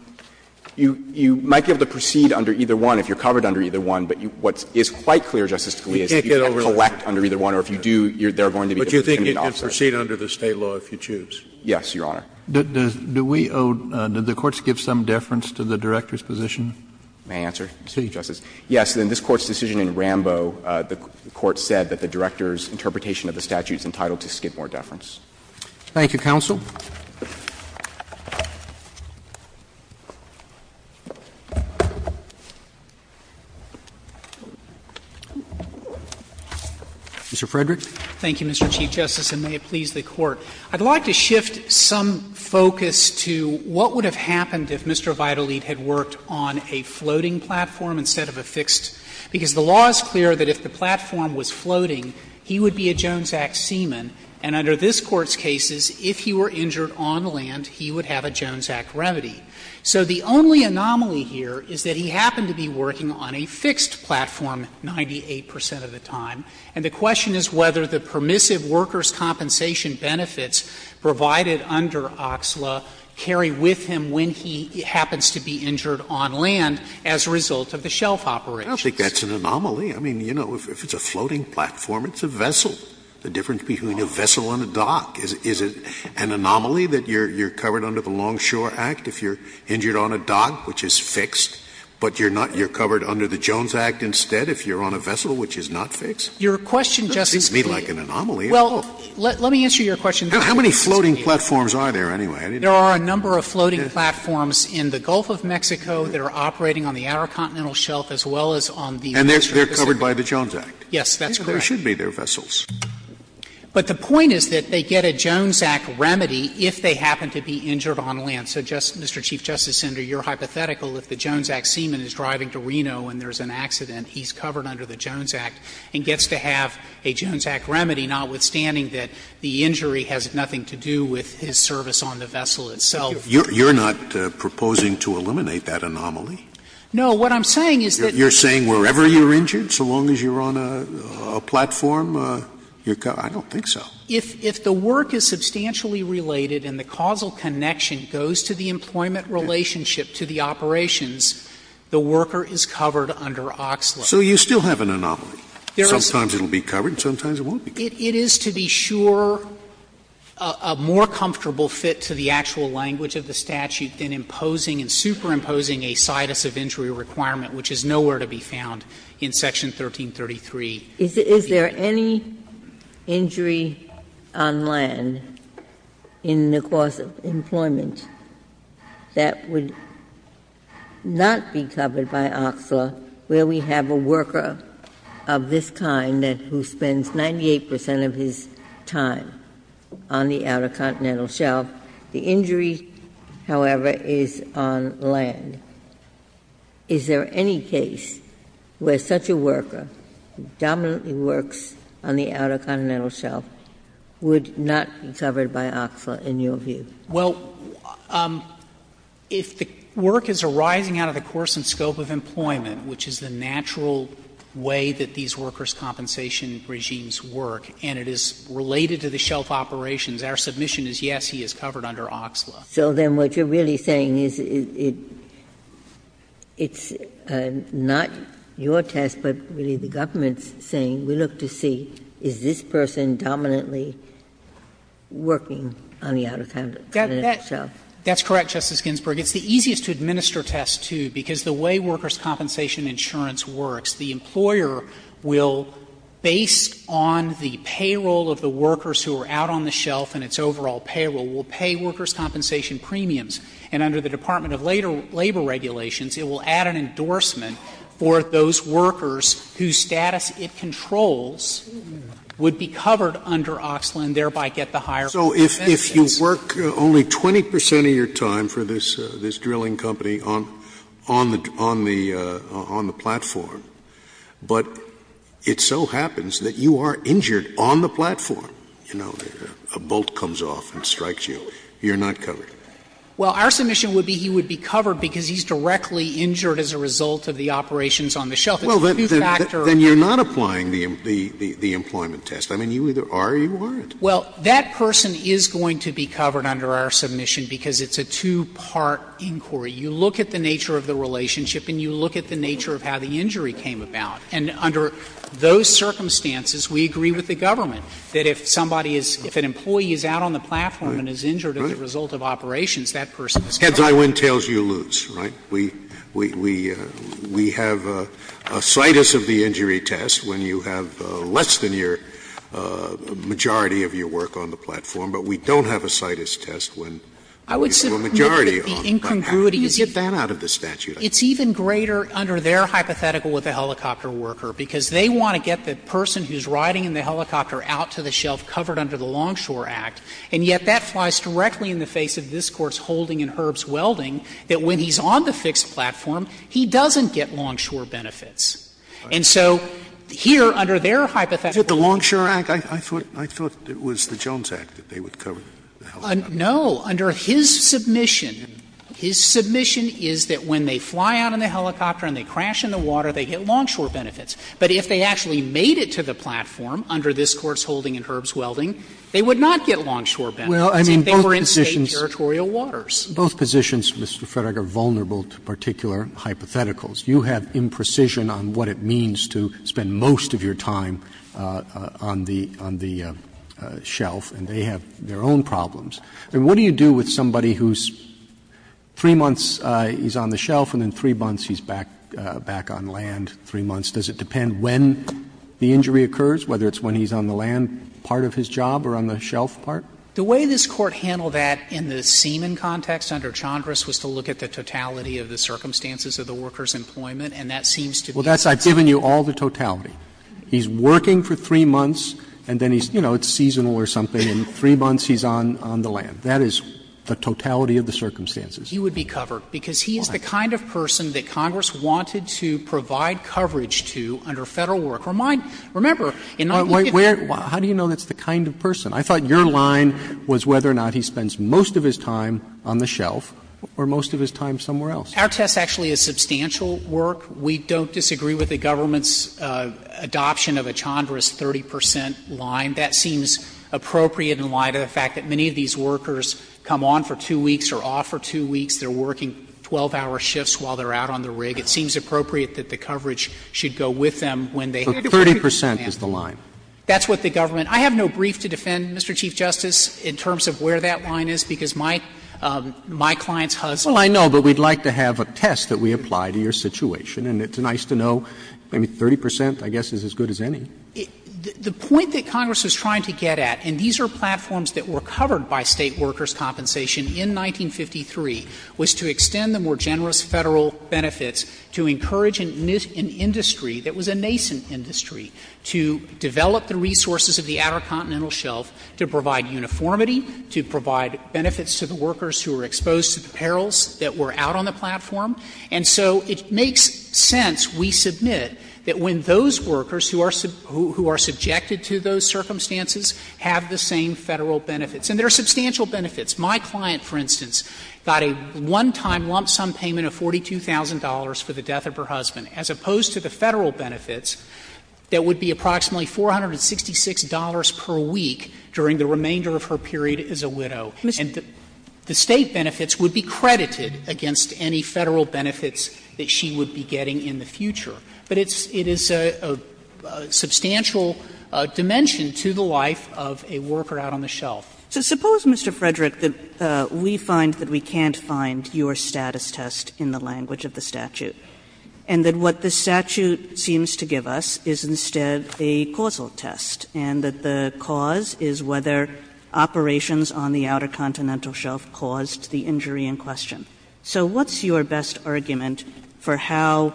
You might be able to proceed under either one if you're covered under either one. But what is quite clear, Justice Scalia, is if you can't collect under either one or if you do, there are going to be differences in the offset. But you think you can proceed under the State law if you choose? Yes, Your Honor. Do we owe the courts give some deference to the director's position? May I answer, Justice? Yes. In this Court's decision in Rambo, the Court said that the director's interpretation of the statute is entitled to skid more deference. Thank you, counsel. Mr. Frederick. Thank you, Mr. Chief Justice, and may it please the Court. I'd like to shift some focus to what would have happened if Mr. Vitalit had worked on a floating platform instead of a fixed? Because the law is clear that if the platform was floating, he would be a Jones Act seaman, and under this Court's cases, if he were injured on land, he would have a Jones Act remedy. So the only anomaly here is that he happened to be working on a fixed platform 98 percent of the time, and the question is whether the permissive workers' compensation benefits provided under OXLA carry with him when he happens to be injured on land as a result of the shelf operations. I don't think that's an anomaly. I mean, you know, if it's a floating platform, it's a vessel. The difference between a vessel and a dock. Is it an anomaly that you're covered under the Longshore Act if you're injured on a dock, which is fixed, but you're not you're covered under the Jones Act instead if you're on a vessel, which is not fixed? It seems to me like an anomaly. Well, let me answer your question, Justice Scalia. How many floating platforms are there, anyway? There are a number of floating platforms in the Gulf of Mexico that are operating on the intercontinental shelf as well as on the major Pacific coast. And they're covered by the Jones Act? Yes, that's correct. There should be, they're vessels. But the point is that they get a Jones Act remedy if they happen to be injured on land. So just, Mr. Chief Justice Senator, you're hypothetical if the Jones Act seaman is driving to Reno and there's an accident, he's covered under the Jones Act and gets to have a Jones Act remedy, notwithstanding that the injury has nothing to do with his service on the vessel itself. You're not proposing to eliminate that anomaly? No. What I'm saying is that You're saying wherever you're injured, so long as you're on a platform, you're covered? I don't think so. If the work is substantially related and the causal connection goes to the employment relationship to the operations, the worker is covered under Oxley. Sometimes it will be covered, sometimes it won't be covered. It is, to be sure, a more comfortable fit to the actual language of the statute than imposing and superimposing a situs of injury requirement, which is nowhere to be found in Section 1333. Is there any injury on land in the course of employment that would not be covered by Oxley, where we have a worker of this kind who spends 98 percent of his time on the Outer Continental Shelf? The injury, however, is on land. Is there any case where such a worker dominantly works on the Outer Continental Shelf would not be covered by Oxley, in your view? Well, if the work is arising out of the course and scope of employment, which is the natural way that these workers' compensation regimes work, and it is related to the shelf operations, our submission is, yes, he is covered under Oxley. So then what you're really saying is it's not your test, but really the government's test, saying we look to see, is this person dominantly working on the Outer Continental Shelf? That's correct, Justice Ginsburg. It's the easiest to administer test, too, because the way workers' compensation insurance works, the employer will, based on the payroll of the workers who are out on the shelf and its overall payroll, will pay workers' compensation premiums. And under the Department of Labor regulations, it will add an endorsement for those workers whose status it controls would be covered under Oxley and thereby get the higher compensations. So if you work only 20 percent of your time for this drilling company on the platform, but it so happens that you are injured on the platform, you know, a bolt comes off and strikes you, you're not covered? Well, our submission would be he would be covered because he's directly injured as a result of the operations on the shelf. It's two-factor. Scalia Then you're not applying the employment test. I mean, you either are or you aren't. Well, that person is going to be covered under our submission because it's a two-part inquiry. You look at the nature of the relationship and you look at the nature of how the injury came about. And under those circumstances, we agree with the government that if somebody is — if an employee is out on the platform and is injured as a result of operations, that person is covered. Heads, I win, tails, you lose, right? We have a CITES of the injury test when you have less than your majority of your work on the platform, but we don't have a CITES test when we have a majority on the platform. How do you get that out of the statute? It's even greater under their hypothetical with the helicopter worker, because they want to get the person who's riding in the helicopter out to the shelf covered under the Longshore Act, and yet that flies directly in the face of this Court's holding in Herb's Welding, that when he's on the fixed platform, he doesn't get longshore benefits. And so here, under their hypothetical law, the Longshore Act, I thought — I thought it was the Jones Act that they would cover the helicopter. No. Under his submission, his submission is that when they fly out in the helicopter and they crash in the water, they get longshore benefits. But if they actually made it to the platform under this Court's holding in Herb's Welding, they would not get longshore benefits if they were in State territorial waters. Both positions, Mr. Frederick, are vulnerable to particular hypotheticals. You have imprecision on what it means to spend most of your time on the — on the shelf, and they have their own problems. I mean, what do you do with somebody who's 3 months he's on the shelf and then 3 months he's back — back on land 3 months? Does it depend when the injury occurs, whether it's when he's on the land part of his job or on the shelf part? The way this Court handled that in the Seaman context under Chandras was to look at the totality of the circumstances of the worker's employment, and that seems to be the same. Well, that's — I've given you all the totality. He's working for 3 months and then he's — you know, it's seasonal or something, and 3 months he's on — on the land. That is the totality of the circumstances. He would be covered, because he is the kind of person that Congress wanted to provide coverage to under Federal work. Remind — remember, in 19— How do you know that's the kind of person? I thought your line was whether or not he spends most of his time on the shelf or most of his time somewhere else. Our test actually is substantial work. We don't disagree with the government's adoption of a Chandra's 30 percent line. That seems appropriate in light of the fact that many of these workers come on for 2 weeks or off for 2 weeks. They're working 12-hour shifts while they're out on the rig. It seems appropriate that the coverage should go with them when they head to work on the land. So 30 percent is the line? That's what the government — I have no brief to defend. Mr. Chief Justice, in terms of where that line is, because my — my client's husband — Well, I know, but we'd like to have a test that we apply to your situation. And it's nice to know maybe 30 percent, I guess, is as good as any. The point that Congress was trying to get at, and these are platforms that were covered by State workers' compensation in 1953, was to extend the more generous Federal benefits to encourage an industry that was a nascent industry to develop the resources of the Outer Continental Shelf to provide uniformity, to provide benefits to the workers who were exposed to the perils that were out on the platform. And so it makes sense, we submit, that when those workers who are — who are subjected to those circumstances have the same Federal benefits, and there are substantial benefits. My client, for instance, got a one-time lump sum payment of $42,000 for the death of her husband, as opposed to the Federal benefits that would be approximately $466 per week during the remainder of her period as a widow. And the State benefits would be credited against any Federal benefits that she would be getting in the future. But it's — it is a substantial dimension to the life of a worker out on the shelf. Kagan. So suppose, Mr. Frederick, that we find that we can't find your status test in the language of the statute, and that what the statute seems to give us is instead a causal test, and that the cause is whether operations on the Outer Continental Shelf caused the injury in question. So what's your best argument for how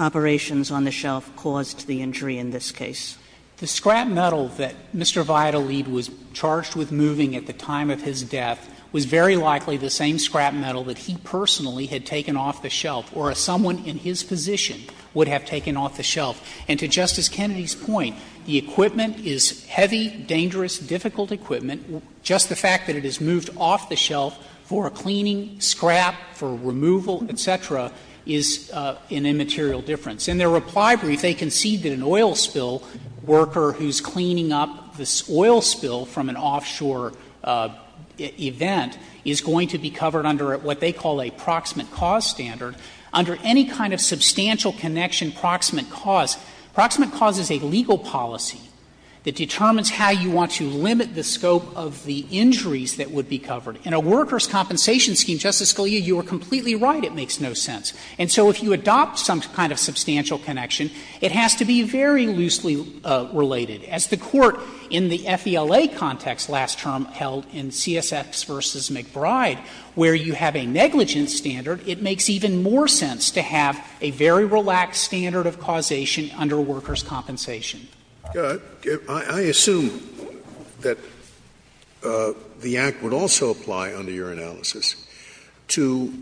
operations on the shelf caused the injury in this case? The scrap metal that Mr. Vidalede was charged with moving at the time of his death was very likely the same scrap metal that he personally had taken off the shelf or someone in his position would have taken off the shelf. And to Justice Kennedy's point, the equipment is heavy, dangerous, difficult equipment. Just the fact that it is moved off the shelf for a cleaning, scrap, for removal, et cetera, is an immaterial difference. And their reply brief, they concede that an oil spill worker who's cleaning up this oil spill from an offshore event is going to be covered under what they call a proximate cause standard. Under any kind of substantial connection proximate cause, proximate cause is a legal policy that determines how you want to limit the scope of the injuries that would be covered. In a workers' compensation scheme, Justice Scalia, you are completely right, it makes no sense. And so if you adopt some kind of substantial connection, it has to be very loosely related. As the Court in the FELA context last term held in CSX v. McBride, where you have a negligence standard, it makes even more sense to have a very relaxed standard of causation under workers' compensation. Scalia. I assume that the Act would also apply, under your analysis, to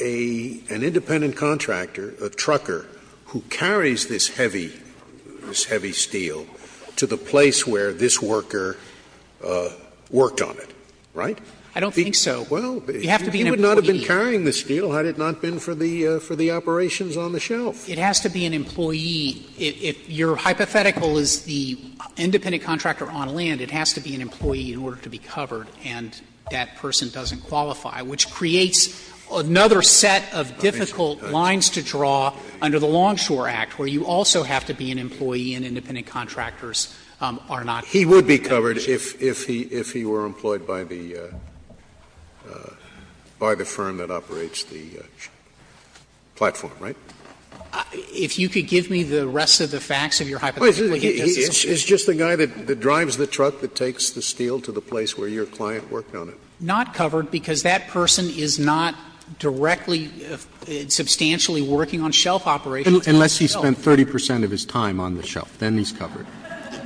a — an independent contractor, a trucker, who carries this heavy — this heavy steel to the place where this worker worked on it, right? I don't think so. Well, you have to be an employee. Had it not been carrying the steel, had it not been for the operations on the shelf. It has to be an employee. If your hypothetical is the independent contractor on land, it has to be an employee in order to be covered, and that person doesn't qualify, which creates another set of difficult lines to draw under the Longshore Act, where you also have to be an employee and independent contractors are not. He would be covered if he were employed by the firm that operates the platform, right? If you could give me the rest of the facts of your hypothetical, yes, it's true. It's just the guy that drives the truck that takes the steel to the place where your client worked on it. Not covered, because that person is not directly substantially working on shelf operations. Unless he spent 30 percent of his time on the shelf. Then he's covered.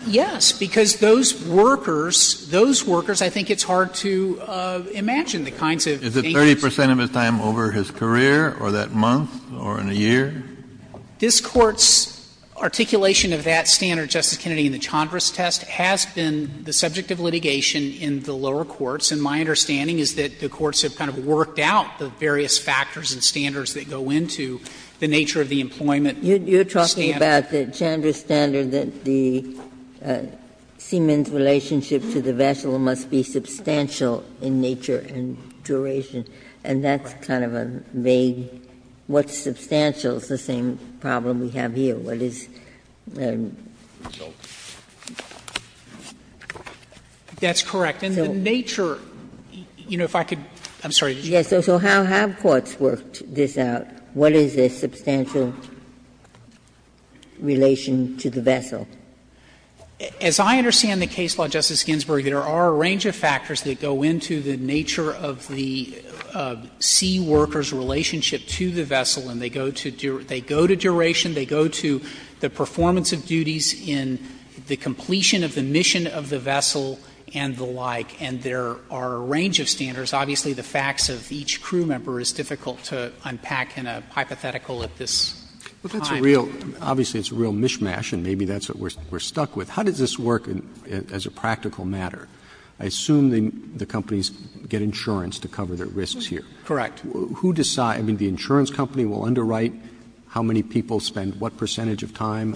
Yes, because those workers, those workers, I think it's hard to imagine the kinds of things. Kennedy, is it 30 percent of his time over his career or that month or in a year? This Court's articulation of that standard, Justice Kennedy, in the Chandra's test has been the subject of litigation in the lower courts. And my understanding is that the courts have kind of worked out the various factors and standards that go into the nature of the employment standard. Ginsburg You're talking about the Chandra standard, that the seaman's relationship to the vessel must be substantial in nature and duration, and that's kind of a vague what's substantial is the same problem we have here. What is the result? That's correct. And the nature, you know, if I could, I'm sorry, did you want to say something? Yes. So how have courts worked this out? What is the substantial relation to the vessel? As I understand the case law, Justice Ginsburg, there are a range of factors that go into the nature of the sea worker's relationship to the vessel, and they go to duration, they go to the performance of duties in the completion of the mission of the vessel, and the like, and there are a range of standards. Obviously, the facts of each crew member is difficult to unpack in a hypothetical at this time. But that's a real, obviously, it's a real mishmash, and maybe that's what we're stuck with. How does this work as a practical matter? I assume the companies get insurance to cover their risks here. Correct. Who decides, I mean, the insurance company will underwrite how many people spend what percentage of time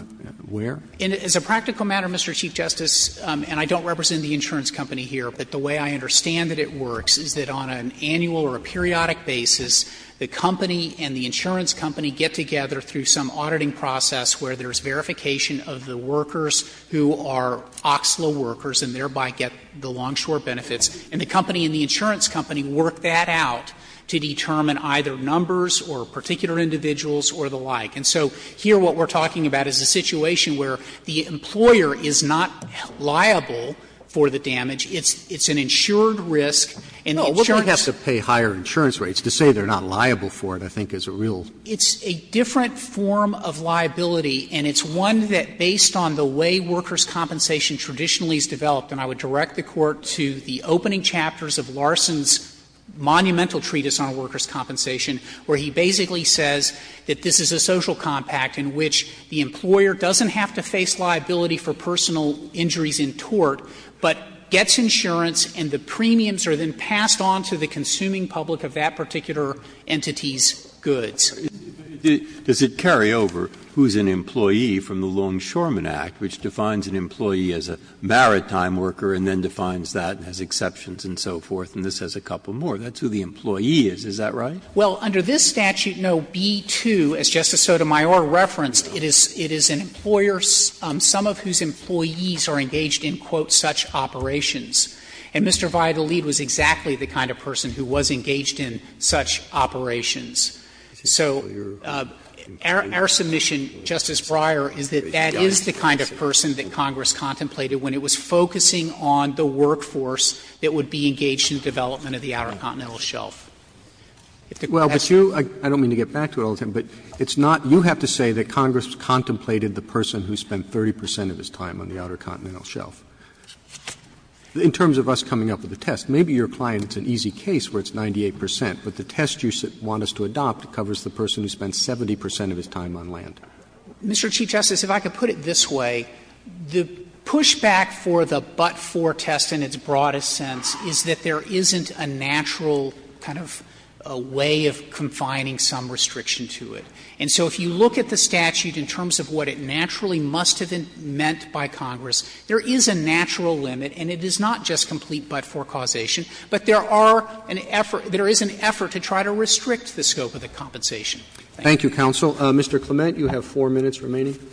where? As a practical matter, Mr. Chief Justice, and I don't represent the insurance company here, but the way I understand that it works is that on an annual or a periodic basis, the company and the insurance company get together through some auditing process where there's verification of the workers who are OXLA workers and thereby get the longshore benefits, and the company and the insurance company work that out to determine either numbers or particular individuals or the like. And so here what we're talking about is a situation where the employer is not liable for the damage. It's an insured risk, and the insurance company is not liable for the damage. It's an insured risk, and the insurance company is not liable for the damage. Roberts. No, we're going to have to pay higher insurance rates to say they're not liable for it, I think, is a real. It's a different form of liability, and it's one that, based on the way workers' compensation traditionally has developed, and I would direct the Court to the opening chapters of Larson's monumental treatise on workers' compensation, where he basically says that this is a social compact in which the employer doesn't have to face liability for personal injuries in tort, but gets insurance and the premiums are then passed on to the consuming public of that particular entity's goods. Breyer. Does it carry over who's an employee from the Longshoremen Act, which defines an employee as a maritime worker and then defines that as exceptions and so forth, and this has a couple more? That's who the employee is, is that right? Well, under this statute, no, B-2, as Justice Sotomayor referenced, it is an employer, some of whose employees are engaged in, quote, such operations. And Mr. Vidalede was exactly the kind of person who was engaged in such operations. So our submission, Justice Breyer, is that that is the kind of person that Congress contemplated when it was focusing on the workforce that would be engaged in the development of the Outer Continental Shelf. Well, but you — I don't mean to get back to it all the time, but it's not — you have to say that Congress contemplated the person who spent 30 percent of his time on the Outer Continental Shelf. In terms of us coming up with the test, maybe your client, it's an easy case where it's 98 percent, but the test you want us to adopt covers the person who spent 70 percent of his time on land. Mr. Chief Justice, if I could put it this way, the pushback for the but-for test in its broadest sense is that there isn't a natural kind of way of confining some restriction to it. And so if you look at the statute in terms of what it naturally must have meant by Congress, there is a natural limit, and it is not just complete but-for causation, but there are an effort — there is an effort to try to restrict the scope of the compensation. Thank you. Roberts. Thank you, counsel. Mr. Clement, you have 4 minutes remaining. Clement.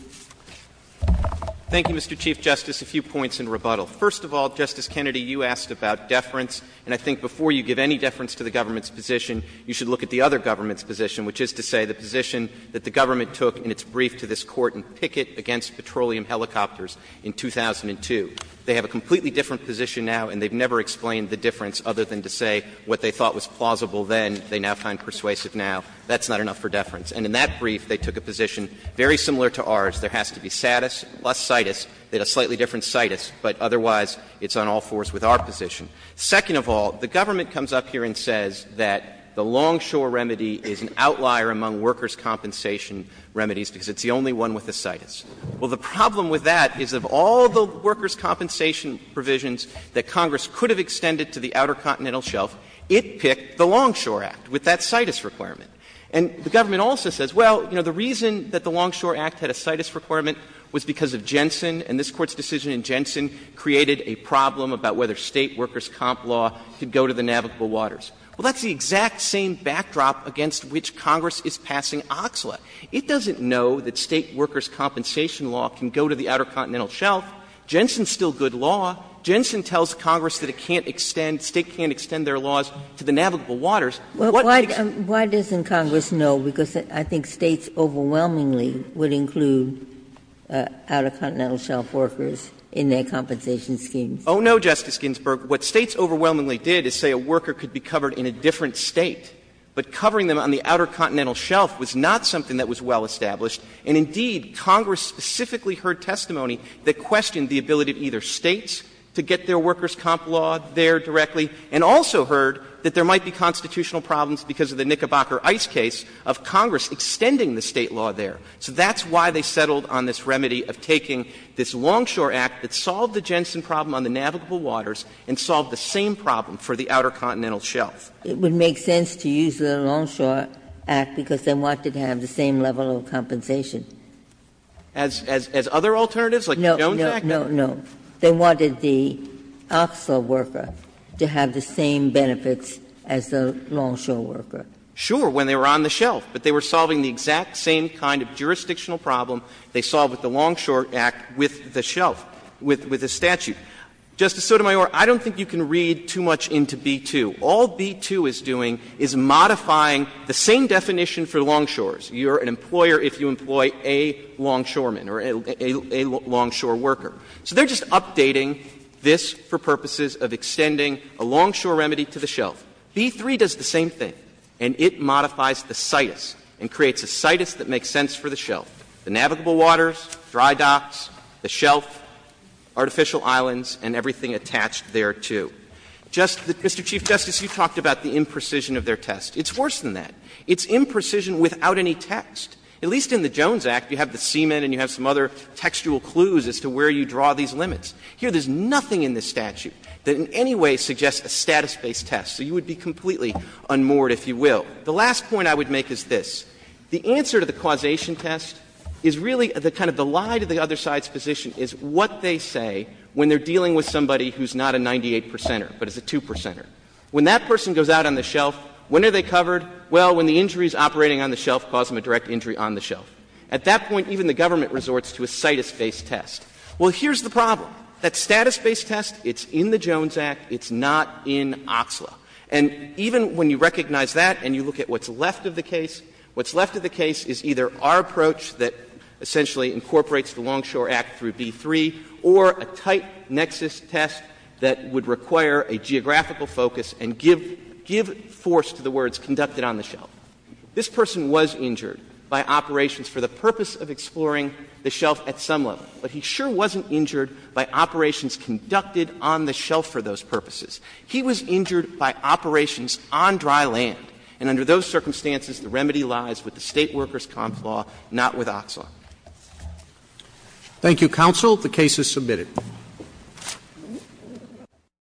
Thank you, Mr. Chief Justice. A few points in rebuttal. First of all, Justice Kennedy, you asked about deference, and I think before you give any deference to the government's position, you should look at the other government's position that the government took in its brief to this Court in Pickett against petroleum helicopters in 2002. They have a completely different position now, and they've never explained the difference other than to say what they thought was plausible then, they now find persuasive now. That's not enough for deference. And in that brief, they took a position very similar to ours. There has to be status plus citus, but a slightly different citus, but otherwise it's on all fours with our position. Second of all, the government comes up here and says that the longshore remedy is an outlier among workers' compensation remedies because it's the only one with a citus. Well, the problem with that is of all the workers' compensation provisions that Congress could have extended to the Outer Continental Shelf, it picked the Longshore Act with that citus requirement. And the government also says, well, you know, the reason that the Longshore Act had a citus requirement was because of Jensen, and this Court's decision in Jensen created a problem about whether State workers' comp law could go to the navigable waters. Well, that's the exact same backdrop against which Congress is passing OCSLA. It doesn't know that State workers' compensation law can go to the Outer Continental Shelf. Jensen's still good law. Jensen tells Congress that it can't extend, State can't extend their laws to the navigable waters. What makes it? Ginsburg. Why doesn't Congress know? Because I think States overwhelmingly would include Outer Continental Shelf workers in their compensation schemes. Oh, no, Justice Ginsburg. What States overwhelmingly did is say a worker could be covered in a different State, but covering them on the Outer Continental Shelf was not something that was well established, and indeed, Congress specifically heard testimony that questioned the ability of either States to get their workers' comp law there directly, and also heard that there might be constitutional problems because of the Knickerbocker Ice case of Congress extending the State law there. So that's why they settled on this remedy of taking this Longshore Act that solved the Jensen problem on the navigable waters and solved the same problem for the Outer Continental Shelf. It would make sense to use the Longshore Act because they wanted to have the same level of compensation. As other alternatives, like the Jones Act? No, no, no. They wanted the Oxlaw worker to have the same benefits as the Longshore worker. Sure, when they were on the shelf, but they were solving the exact same kind of jurisdictional problem they solved with the Longshore Act with the shelf, with the statute. Justice Sotomayor, I don't think you can read too much into B-2. All B-2 is doing is modifying the same definition for longshores. You're an employer if you employ a longshoreman or a longshore worker. So they're just updating this for purposes of extending a longshore remedy to the shelf. B-3 does the same thing, and it modifies the citus and creates a citus that makes sense for the shelf, the navigable waters, dry docks, the shelf, artificial islands, and everything attached thereto. Just that, Mr. Chief Justice, you talked about the imprecision of their test. It's worse than that. It's imprecision without any text. At least in the Jones Act, you have the semen and you have some other textual clues as to where you draw these limits. Here, there's nothing in this statute that in any way suggests a status-based test. So you would be completely unmoored, if you will. The last point I would make is this. The answer to the causation test is really the kind of the lie to the other side's position is what they say when they're dealing with somebody who's not a 98 percenter but is a 2 percenter. When that person goes out on the shelf, when are they covered? Well, when the injury is operating on the shelf, cause them a direct injury on the shelf. At that point, even the government resorts to a citus-based test. Well, here's the problem. That status-based test, it's in the Jones Act. It's not in OXLA. And even when you recognize that and you look at what's left of the case, what's left of the case is either our approach that essentially incorporates the Longshore Act through B-3 or a tight nexus test that would require a geographical focus and give force to the words conducted on the shelf. This person was injured by operations for the purpose of exploring the shelf at some level, but he sure wasn't injured by operations conducted on the shelf for those purposes. He was injured by operations on dry land, and under those circumstances, the remedy lies with the State workers' comp law, not with OXLA. Roberts. Thank you, counsel. The case is submitted.